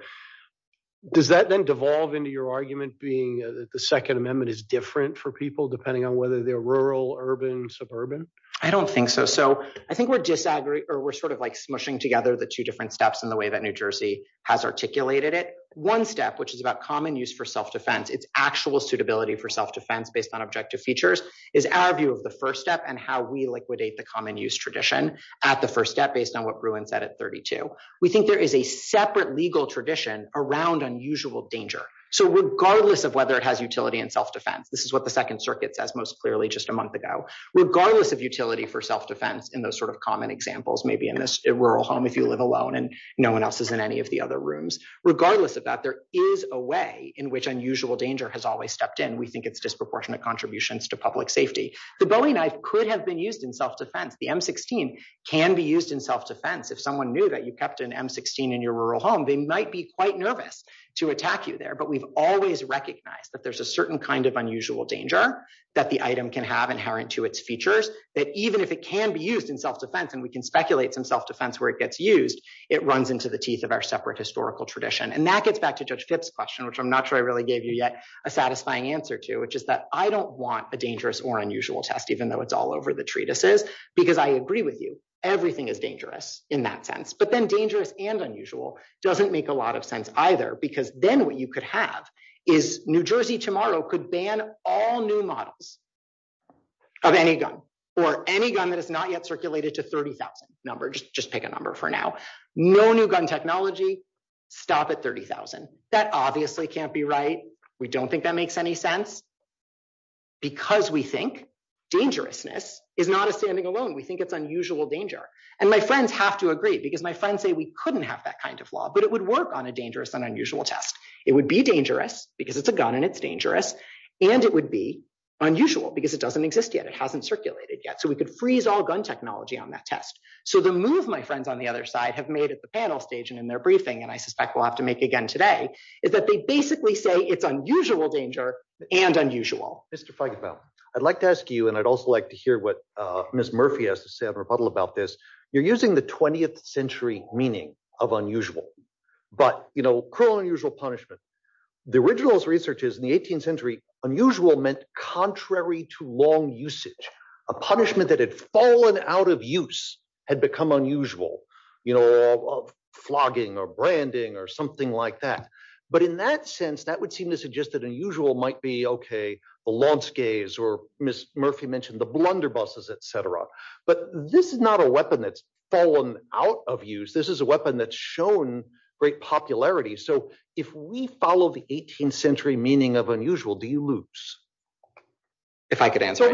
Does that then devolve into your argument being that the Second Amendment is different for people depending on whether they're rural, urban, suburban? I don't think so. So I think we're sort of like smushing together the two different steps in the way that New Jersey has articulated it. One step, which is about common use for self-defense, it's actual suitability for self-defense based on objective features, is our view of the first step and how we liquidate the common use tradition at the first step based on what Bruin said at 32. We think there is a separate legal tradition around unusual danger. So regardless of whether it has utility in self-defense, this is what the Second Circuit says most clearly just a month ago, regardless of utility for self-defense in those sort of common examples, maybe in a rural home if you live alone and no one else is in any of the other rooms, regardless of that, there is a way in which unusual danger has always stepped in. We think it's disproportionate contributions to public safety. The Bowie knife could have been used in self-defense. The M16 can be used in self-defense. If someone knew that you kept an M16 in your rural home, they might be quite nervous to attack you there, but we've always recognized that there's a certain kind of unusual danger that the item can have inherent to its features that even if it can be used in self-defense and we can speculate in self-defense where it gets used, it runs into the teeth of our separate historical tradition. And that gets back to Judge Kitt's question, which I'm not sure I really gave you yet a satisfying answer to, which is that I don't want a dangerous or unusual test, even though it's all over the treatises, because I agree with you. Everything is dangerous in that sense, but then dangerous and unusual doesn't make a lot of sense either, because then what you could have is New Jersey tomorrow could ban all new models of any gun or any gun that is not yet circulated to 30,000 numbers. Just pick a number for now. No new gun technology, stop at 30,000. That obviously can't be right. We don't think that makes any sense because we think dangerousness is not a standing alone. We think it's unusual danger. And my friends have to agree because my friends say we couldn't have that kind of law, but it would work on a dangerous and unusual test. It would be dangerous because it's a gun and it's dangerous. And it would be unusual because it doesn't exist yet. It hasn't circulated yet. So we could freeze all gun technology on that test. So the move my friends on the other side have made at the panel stage and in their briefing, and I suspect we'll have to make again today, is that they basically say it's unusual danger and unusual. Mr. Feigenbaum, I'd like to ask you, and I'd also like to hear what Ms. Murphy has to say in her rebuttal about this. You're using the 20th century meaning of unusual, but you know, cruel and unusual punishment. The original research is in the 18th century, unusual meant contrary to long usage. A punishment that had fallen out of use had become unusual, you know, flogging or branding or something like that. But in that sense, that would seem to suggest that unusual might be okay, the launch gays, or Ms. Murphy mentioned the blunderbusses, et cetera. But this is not a weapon that's fallen out of use. This is a weapon that's shown great popularity. So if we follow the 18th century meaning of unusual, do you lose? If I could answer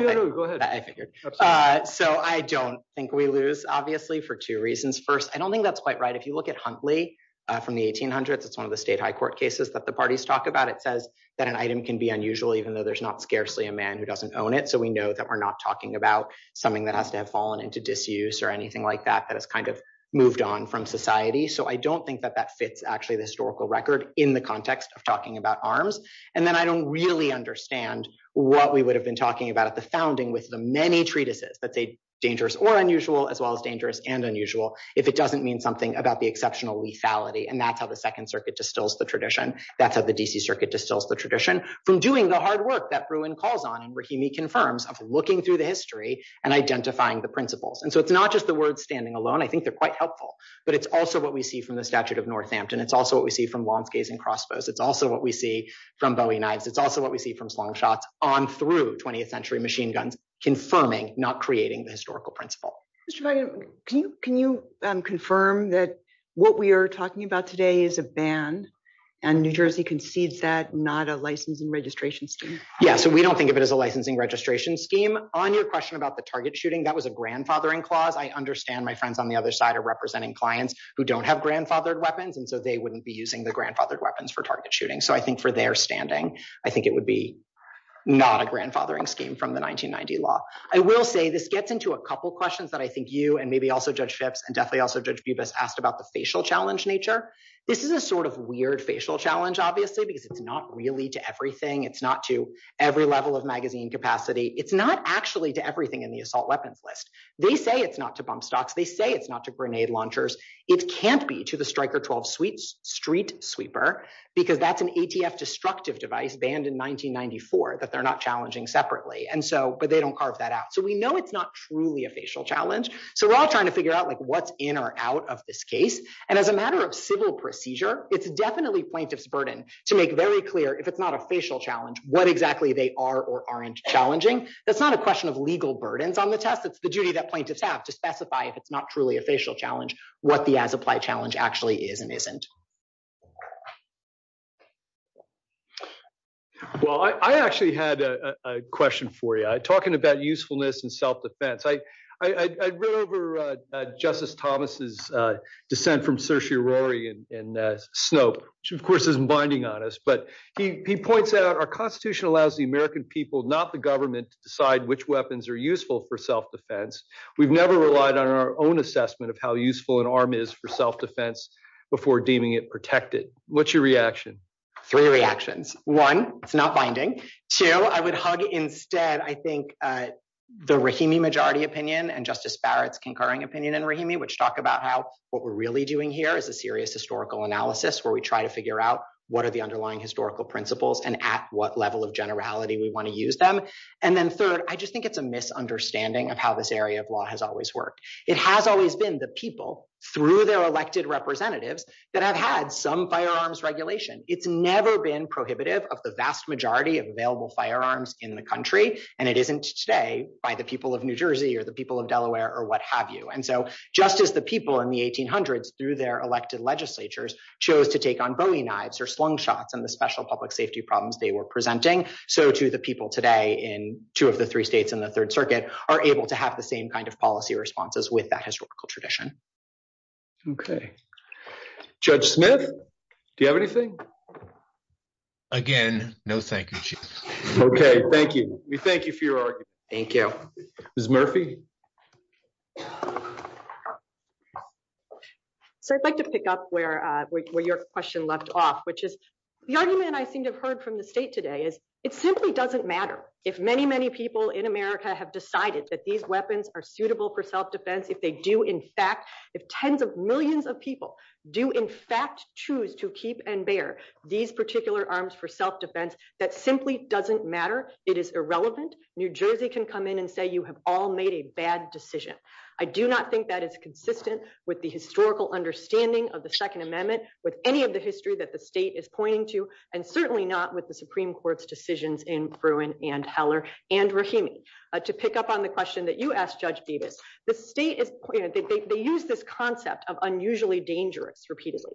that. So I don't think we lose, obviously, for two reasons. First, I don't think that's quite right. If you look at Huntley from the 1800s, it's one of the state high court cases that the parties talk about. It says that an item can be unusual, even though there's not scarcely a man who doesn't own it. So we know that we're not talking about something that has to have fallen into disuse or anything like that, that has kind of moved on from society. So I don't think that that fits actually the historical record in the context of talking about arms. And then I don't understand what we would have been talking about at the founding with the many treatises that say dangerous or unusual as well as dangerous and unusual, if it doesn't mean something about the exceptional lethality. And that's how the second circuit distills the tradition. That's how the DC circuit distills the tradition from doing the hard work that Bruin calls on and Rahimi confirms of looking through the history and identifying the principles. And so it's not just the word standing alone. I think they're quite helpful, but it's also what we see from the statute of Northampton. It's also what we see from launch gays and crossbows. It's also what we see from Bowie knives. It's also what we see from slung shots on through 20th century machine guns, confirming not creating the historical principle. Can you confirm that what we are talking about today is a ban and New Jersey concedes that not a license and registration scheme? Yeah. So we don't think of it as a licensing registration scheme on your question about the target shooting. That was a grandfathering clause. I understand my friends on the other side are representing clients who don't have grandfathered weapons. And so they wouldn't be using the weapons for target shooting. So I think for their standing, I think it would be not a grandfathering scheme from the 1990 law. I will say this gets into a couple of questions that I think you and maybe also judge ships and definitely also judge Bubas asked about the facial challenge nature. This is a sort of weird facial challenge, obviously, because it's not really to everything. It's not to every level of magazine capacity. It's not actually to everything in the assault weapons list. They say it's not to bump stocks. They say it's not to grenade launchers. It can't be to the striker 12 sweet street sweeper, because that's an ATF destructive device banned in 1994 that they're not challenging separately. And so but they don't carve that out. So we know it's not truly a facial challenge. So we're all trying to figure out like what's in or out of this case. And as a matter of civil procedure, it's definitely plaintiff's burden to make very clear if it's not a facial challenge, what exactly they are or aren't challenging. That's not a question of legal burdens on the test. It's the duty that plaintiffs have to actually is and isn't. Well, I actually had a question for you talking about usefulness and self-defense. I read over Justice Thomas's dissent from Saoirse Rory and Snope, which of course is binding on us. But he points out our Constitution allows the American people, not the government, to decide which weapons are useful for self-defense. We've never relied on our own of how useful an arm is for self-defense before deeming it protected. What's your reaction? Three reactions. One, it's not binding. Two, I would hug instead, I think, the Rahimi majority opinion and Justice Barrett's concurring opinion in Rahimi, which talk about how what we're really doing here is a serious historical analysis where we try to figure out what are the underlying historical principles and at what level of generality we want to use them. And then third, I just think it's a misunderstanding of how this law has always worked. It has always been the people through their elected representatives that have had some firearms regulation. It's never been prohibitive of the vast majority of available firearms in the country. And it isn't say by the people of New Jersey or the people of Delaware or what have you. And so just as the people in the 1800s through their elected legislatures chose to take on Bowie knives or slingshots and the special public safety problems they were presenting. So to the people today in two of the three states in the third circuit are able to have the same kind of policy responses with that historical tradition. Okay. Judge Smith, do you have anything? Again, no thank you. Okay. Thank you. We thank you for your argument. Thank you. Ms. Murphy. So I'd like to pick up where your question left off, which is the argument I seem to have heard from the state today is it simply doesn't matter if many, many people in America have decided that these weapons are suitable for self-defense. If they do in fact, if tens of millions of people do in fact choose to keep and bear these particular arms for self-defense, that simply doesn't matter. It is irrelevant. New Jersey can come in and say, you have all made a bad decision. I do not think that is consistent with the historical understanding of the second amendment with any of the history that the state is pointing to, and certainly not with the Supreme Court's decisions in Bruin and Heller and Rahimi. To pick up on the question that you asked Judge Beavis, the state, they use this concept of unusually dangerous repeatedly.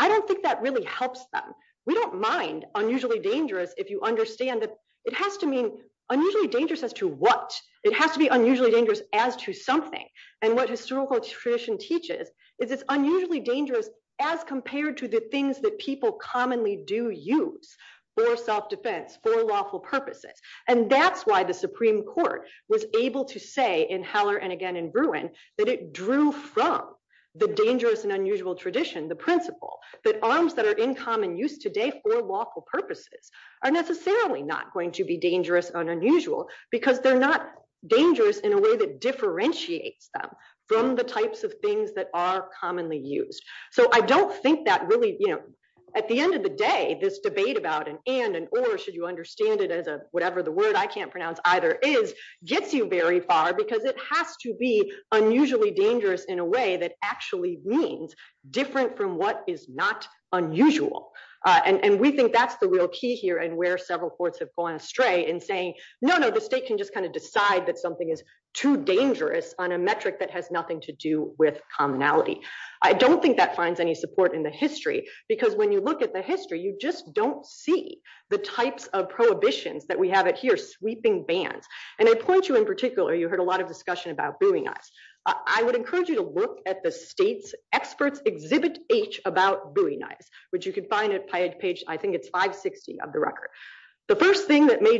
I don't think that really helps them. We don't mind unusually dangerous if you understand that it has to mean unusually dangerous as to what? It has to be unusually dangerous as to something. And what historical tradition teaches is it's unusually dangerous as compared to the things that people commonly do use for self-defense, for lawful purposes. And that's why the Supreme Court was able to say in Heller and again in Bruin, that it drew from the dangerous and unusual tradition, the principle that arms that are in common use today for lawful purposes are necessarily not going to be dangerous and unusual because they're not dangerous in a way that differentiates them from the types of are commonly used. So I don't think that really, you know, at the end of the day, this debate about an and and or should you understand it as a whatever the word I can't pronounce either is, gets you very far because it has to be unusually dangerous in a way that actually means different from what is not unusual. And we think that's the real key here and where several courts have gone astray in saying, no, no, the state can just kind of decide that something is too dangerous on a metric that has nothing to do with commonality. I don't think that finds any support in the history because when you look at the history, you just don't see the types of prohibitions that we have here, sweeping bans. And I point you in particular, you heard a lot of discussion about Bowie knife. I would encourage you to look at the state's experts exhibit H about Bowie knife, which you can find at page, I think it's 560 of the record. The first thing that may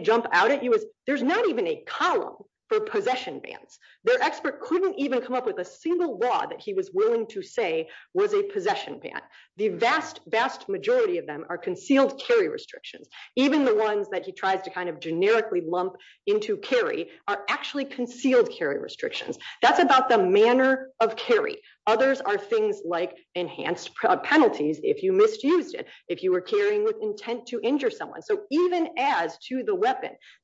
there's not even a column for possession bans. Their expert couldn't even come up with a single law that he was willing to say was a possession ban. The vast, vast majority of them are concealed carry restrictions. Even the ones that he tries to kind of generically lump into carry are actually concealed carry restrictions. That's about the manner of carry. Others are things like enhanced penalties if you misused it, if you were carrying with intent to injure someone. So even as to the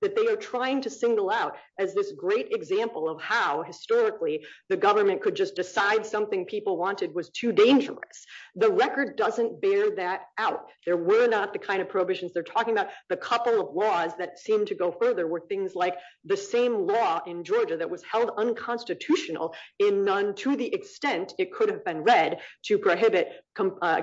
that they are trying to single out as this great example of how historically the government could just decide something people wanted was too dangerous. The record doesn't bear that out. There were not the kind of prohibitions they're talking about. The couple of laws that seem to go further were things like the same law in Georgia that was held unconstitutional in none to the extent it could have been read to prohibit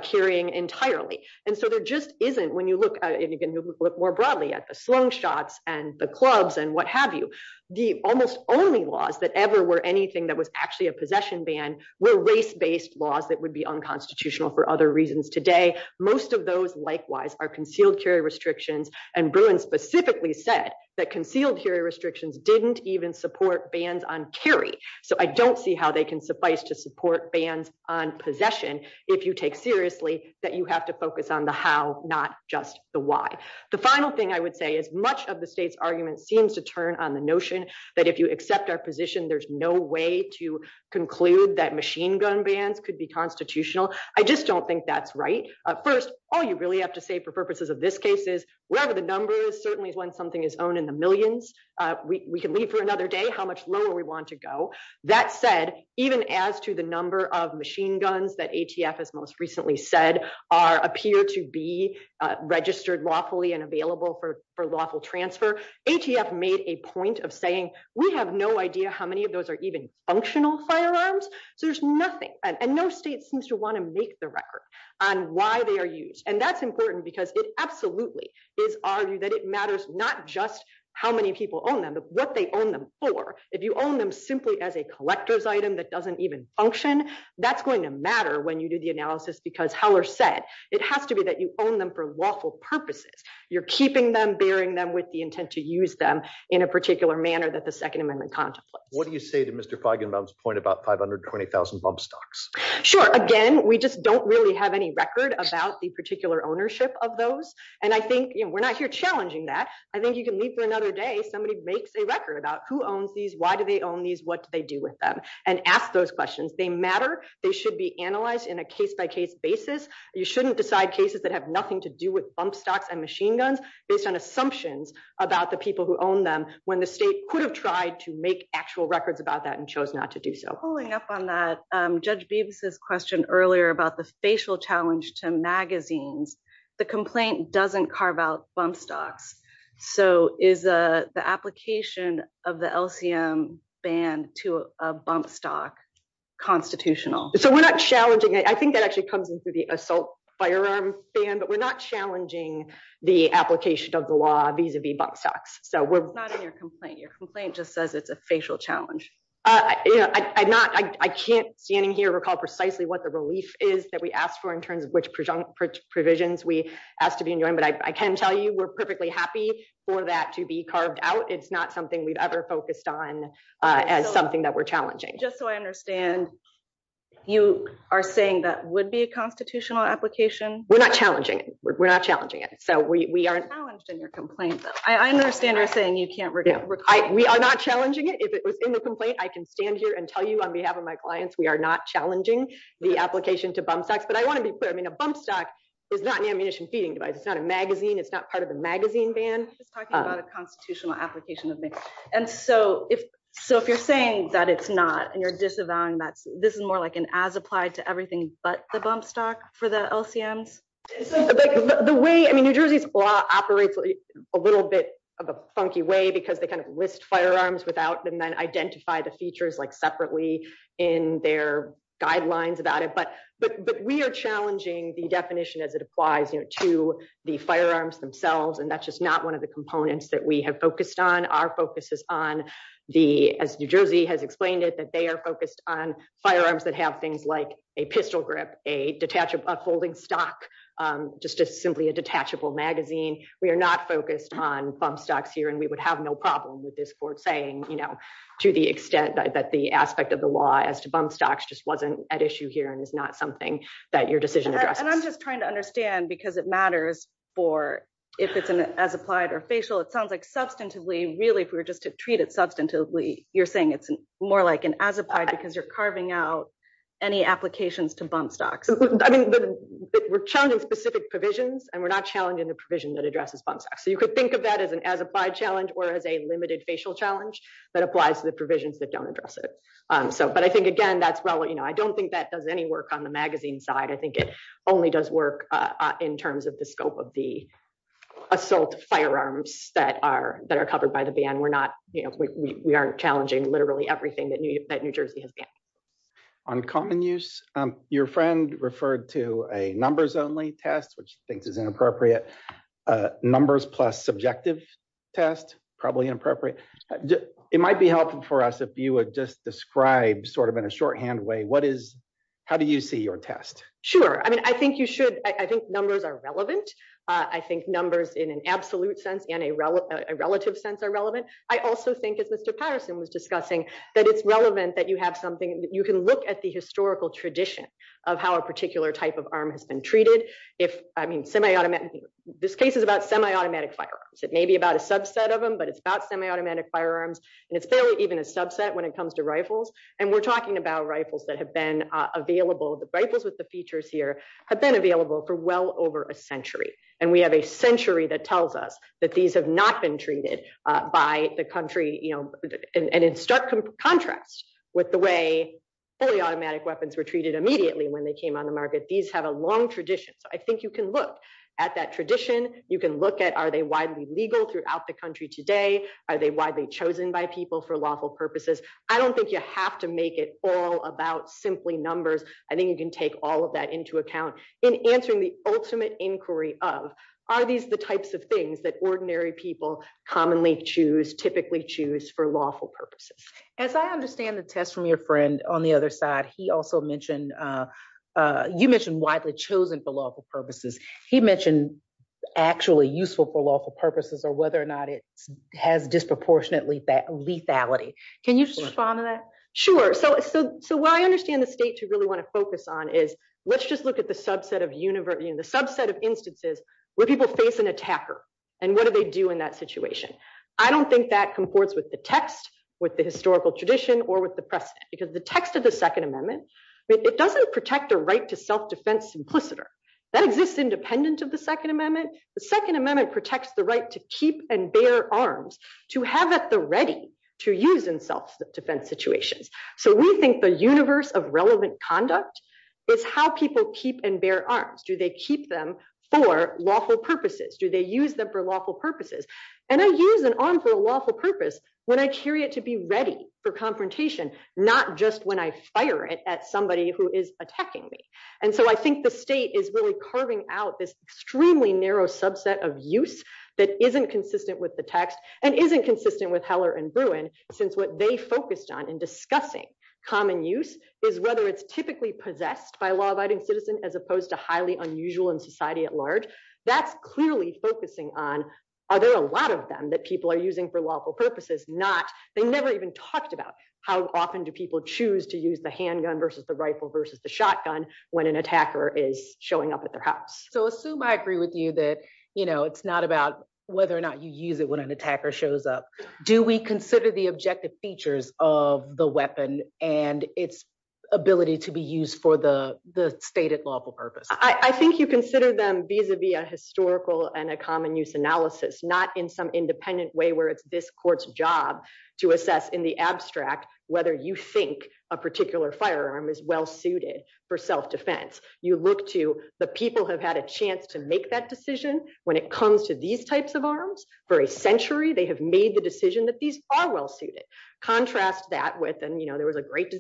carrying entirely. And so there just isn't when you can look more broadly at the Sloan shots and the clubs and what have you. The almost only laws that ever were anything that was actually a possession ban were race-based laws that would be unconstitutional for other reasons today. Most of those likewise are concealed carry restrictions and Bruin specifically said that concealed carry restrictions didn't even support bans on carry. So I don't see how they can suffice to support bans on possession if you take seriously that you have to focus on the how not just the why. The final thing I would say is much of the state's argument seems to turn on the notion that if you accept our position there's no way to conclude that machine gun bans could be constitutional. I just don't think that's right. First all you really have to say for purposes of this case is whatever the number is certainly when something is owned in the millions we can leave for another day how much lower we want to go. That said even as to the number of machine guns that ATF has most recently said are appear to be registered lawfully and available for lawful transfer ATF made a point of saying we have no idea how many of those are even functional firearms. There's nothing and no state seems to want to make the record on why they are used and that's important because it absolutely is argued that it matters not just how many people own them but what they own them for. If you own them simply as a collector's item that doesn't even function that's going to matter when you do the analysis because how are said it has to be that you own them for lawful purposes. You're keeping them bearing them with the intent to use them in a particular manner that the second amendment contemplates. What do you say to Mr. Feigenbaum's point about 520,000 bump stocks? Sure again we just don't really have any record about the particular ownership of those and I think you know we're not here challenging that. I think you can leave for another day somebody makes a record about who owns these why do they own these what do they do with them and ask those questions. They matter they should be analyzed in a case-by-case basis. You shouldn't decide cases that have nothing to do with bump stocks and machine guns based on assumptions about the people who own them when the state could have tried to make actual records about that and chose not to do so. Following up on that Judge Beavis's question earlier about the spatial challenge to magazines the complaint doesn't carve bump stocks so is the application of the LCM ban to a bump stock constitutional? So we're not challenging it I think that actually comes into the assault firearms ban but we're not challenging the application of the law vis-a-vis bump stocks so we're not in your complaint your complaint just says it's a facial challenge. I'm not I can't standing here recall precisely what the relief is that we asked for in terms of which provisions we asked to be enjoined but I can tell you we're perfectly happy for that to be carved out it's not something we've ever focused on as something that we're challenging. Just so I understand you are saying that would be a constitutional application? We're not challenging it we're not challenging it so we are challenged in your complaint. I understand you're saying you can't recall. We are not challenging it if it was in the complaint I can stand here and tell you on behalf of my clients we are not challenging the application to bump stocks but I want to be clear I mean a bump stock is not an ammunition feeding device it's not a magazine it's not part of the magazine ban. Talking about a constitutional application of things and so if so if you're saying that it's not and you're disavowing that this is more like an as applied to everything but the bump stock for the LCMs. The way I mean New Jersey's law operates a little bit of a funky way because they kind of list firearms without them then identify the features like separately in their guidelines about it but we are challenging the definition as it applies you know to the firearms themselves and that's just not one of the components that we have focused on. Our focus is on the as New Jersey has explained it that they are focused on firearms that have things like a pistol grip a detachable holding stock just just simply a detachable magazine. We are not focused on bump stocks here and we would have no problem with this court saying you know to the extent that the aspect of the law as to bump stocks just wasn't at issue here and it's not something that your decision. And I'm just trying to understand because it matters for if it's an as applied or facial it sounds like substantively really if we were just to treat it substantively you're saying it's more like an as applied because you're carving out any applications to bump stocks. I mean we're challenging specific provisions and we're not challenging the provision that addresses bump stocks so you could think of that as an as limited facial challenge that applies to the provisions that don't address it. So but I think again that's well you know I don't think that does any work on the magazine side. I think it only does work in terms of the scope of the assault firearms that are that are covered by the ban. We're not you know we aren't challenging literally everything that New Jersey has banned. On common use your friend referred to a numbers only test which she appropriate numbers plus subjective test probably inappropriate. It might be helpful for us if you would just describe sort of in a shorthand way what is how do you see your test? Sure I mean I think you should I think numbers are relevant. I think numbers in an absolute sense in a relative sense are relevant. I also think as Mr. Patterson was discussing that it's relevant that you have something you can look at the historical tradition of how a particular type of arm has been treated. If I mean semi-automatic this case is about semi-automatic firearms. It may be about a subset of them but it's about semi-automatic firearms and it's barely even a subset when it comes to rifles and we're talking about rifles that have been available. The rifles with the features here have been available for well over a century and we have a century that tells us that these have not been treated by the country you know and in stark contrast with the way fully automatic weapons were immediately when they came on the market. These have a long tradition. I think you can look at that tradition. You can look at are they widely legal throughout the country today? Are they widely chosen by people for lawful purposes? I don't think you have to make it all about simply numbers. I think you can take all of that into account in answering the ultimate inquiry of are these the types of things that ordinary people commonly choose typically choose for lawful purposes. As I understand the test from your friend on the other side, he also mentioned you mentioned widely chosen for lawful purposes. He mentioned actually useful for lawful purposes or whether or not it has disproportionate lethality. Can you respond to that? Sure. So what I understand the states you really want to focus on is let's just look at the subset of universities, the subset of instances where people face an attacker and what do they do in that I don't think that comports with the text, with the historical tradition or with the precedent because the text of the second amendment, it doesn't protect a right to self-defense simpliciter. That exists independent of the second amendment. The second amendment protects the right to keep and bear arms to have at the ready to use in self-defense situations. So we think the universe of relevant conduct is how people keep and bear arms. Do they keep them for lawful purposes? Do they use them for lawful purposes? And I use an arm for a lawful purpose when I carry it to be ready for confrontation, not just when I fire it at somebody who is attacking me. And so I think the state is really carving out this extremely narrow subset of use that isn't consistent with the text and isn't consistent with Heller and Bruin since what they focused on in discussing common use is whether it's typically possessed by a law-abiding citizen as opposed to highly unusual in society at large. That's clearly focusing on are there a lot of them that people are using for lawful purposes, not they never even talked about how often do people choose to use the handgun versus the rifle versus the shotgun when an attacker is showing up at their house. So assume I agree with you that you know it's not about whether or not you use it when an attacker shows up. Do we consider the objective features of the weapon and its ability to be used for the stated lawful purpose? I think you consider them vis-a-vis a historical and a common use analysis, not in some independent way where it's this court's job to assess in the abstract whether you think a particular firearm is well suited for self-defense. You look to the people who have had a chance to make that decision when it comes to these types of arms. For a century they have made the decision that these are well suited. Contrast that with and you know there was a great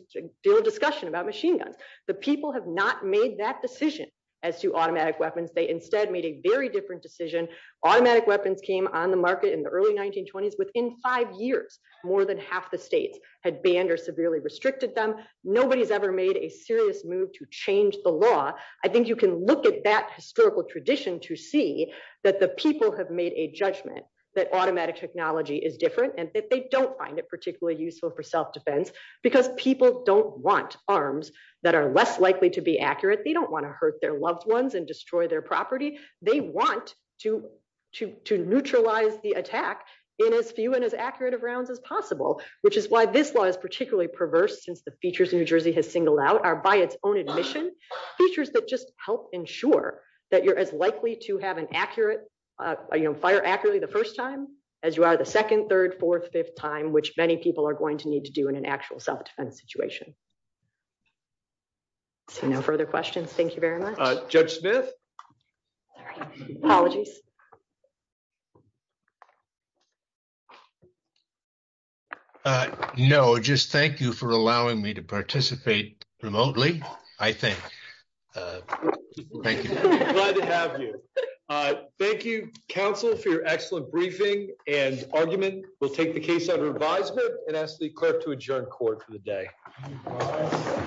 deal of discussion about machine guns. The people have not made that decision as to automatic weapons. They instead made a very different decision. Automatic weapons came on the market in the early 1920s. Within five years more than half the states had banned or severely restricted them. Nobody's ever made a serious move to change the law. I think you can look at that historical tradition to see that the people have made a judgment that automatic technology is different and that they don't find it particularly useful for self-defense because people don't want arms that are less likely to be accurate. They don't want to hurt their loved ones and destroy their property. They want to neutralize the attack in as few and as accurate of rounds as possible, which is why this law is particularly perverse since the features New Jersey has singled out are by its own admission features that just help ensure that you're as likely to have an accurate uh you know fire accurately the first time as you are the second, third, fourth, fifth time, which many people are going to need to do in an actual self-defense situation. So no further questions. Thank you very much. Judge Smith. Apologies. Uh no, just thank you for allowing me to participate remotely. I think. Thank you. Glad to have you. Uh thank you counsel for your excellent briefing and argument. We'll take the case out of advisement and ask the clerk to adjourn court for the day.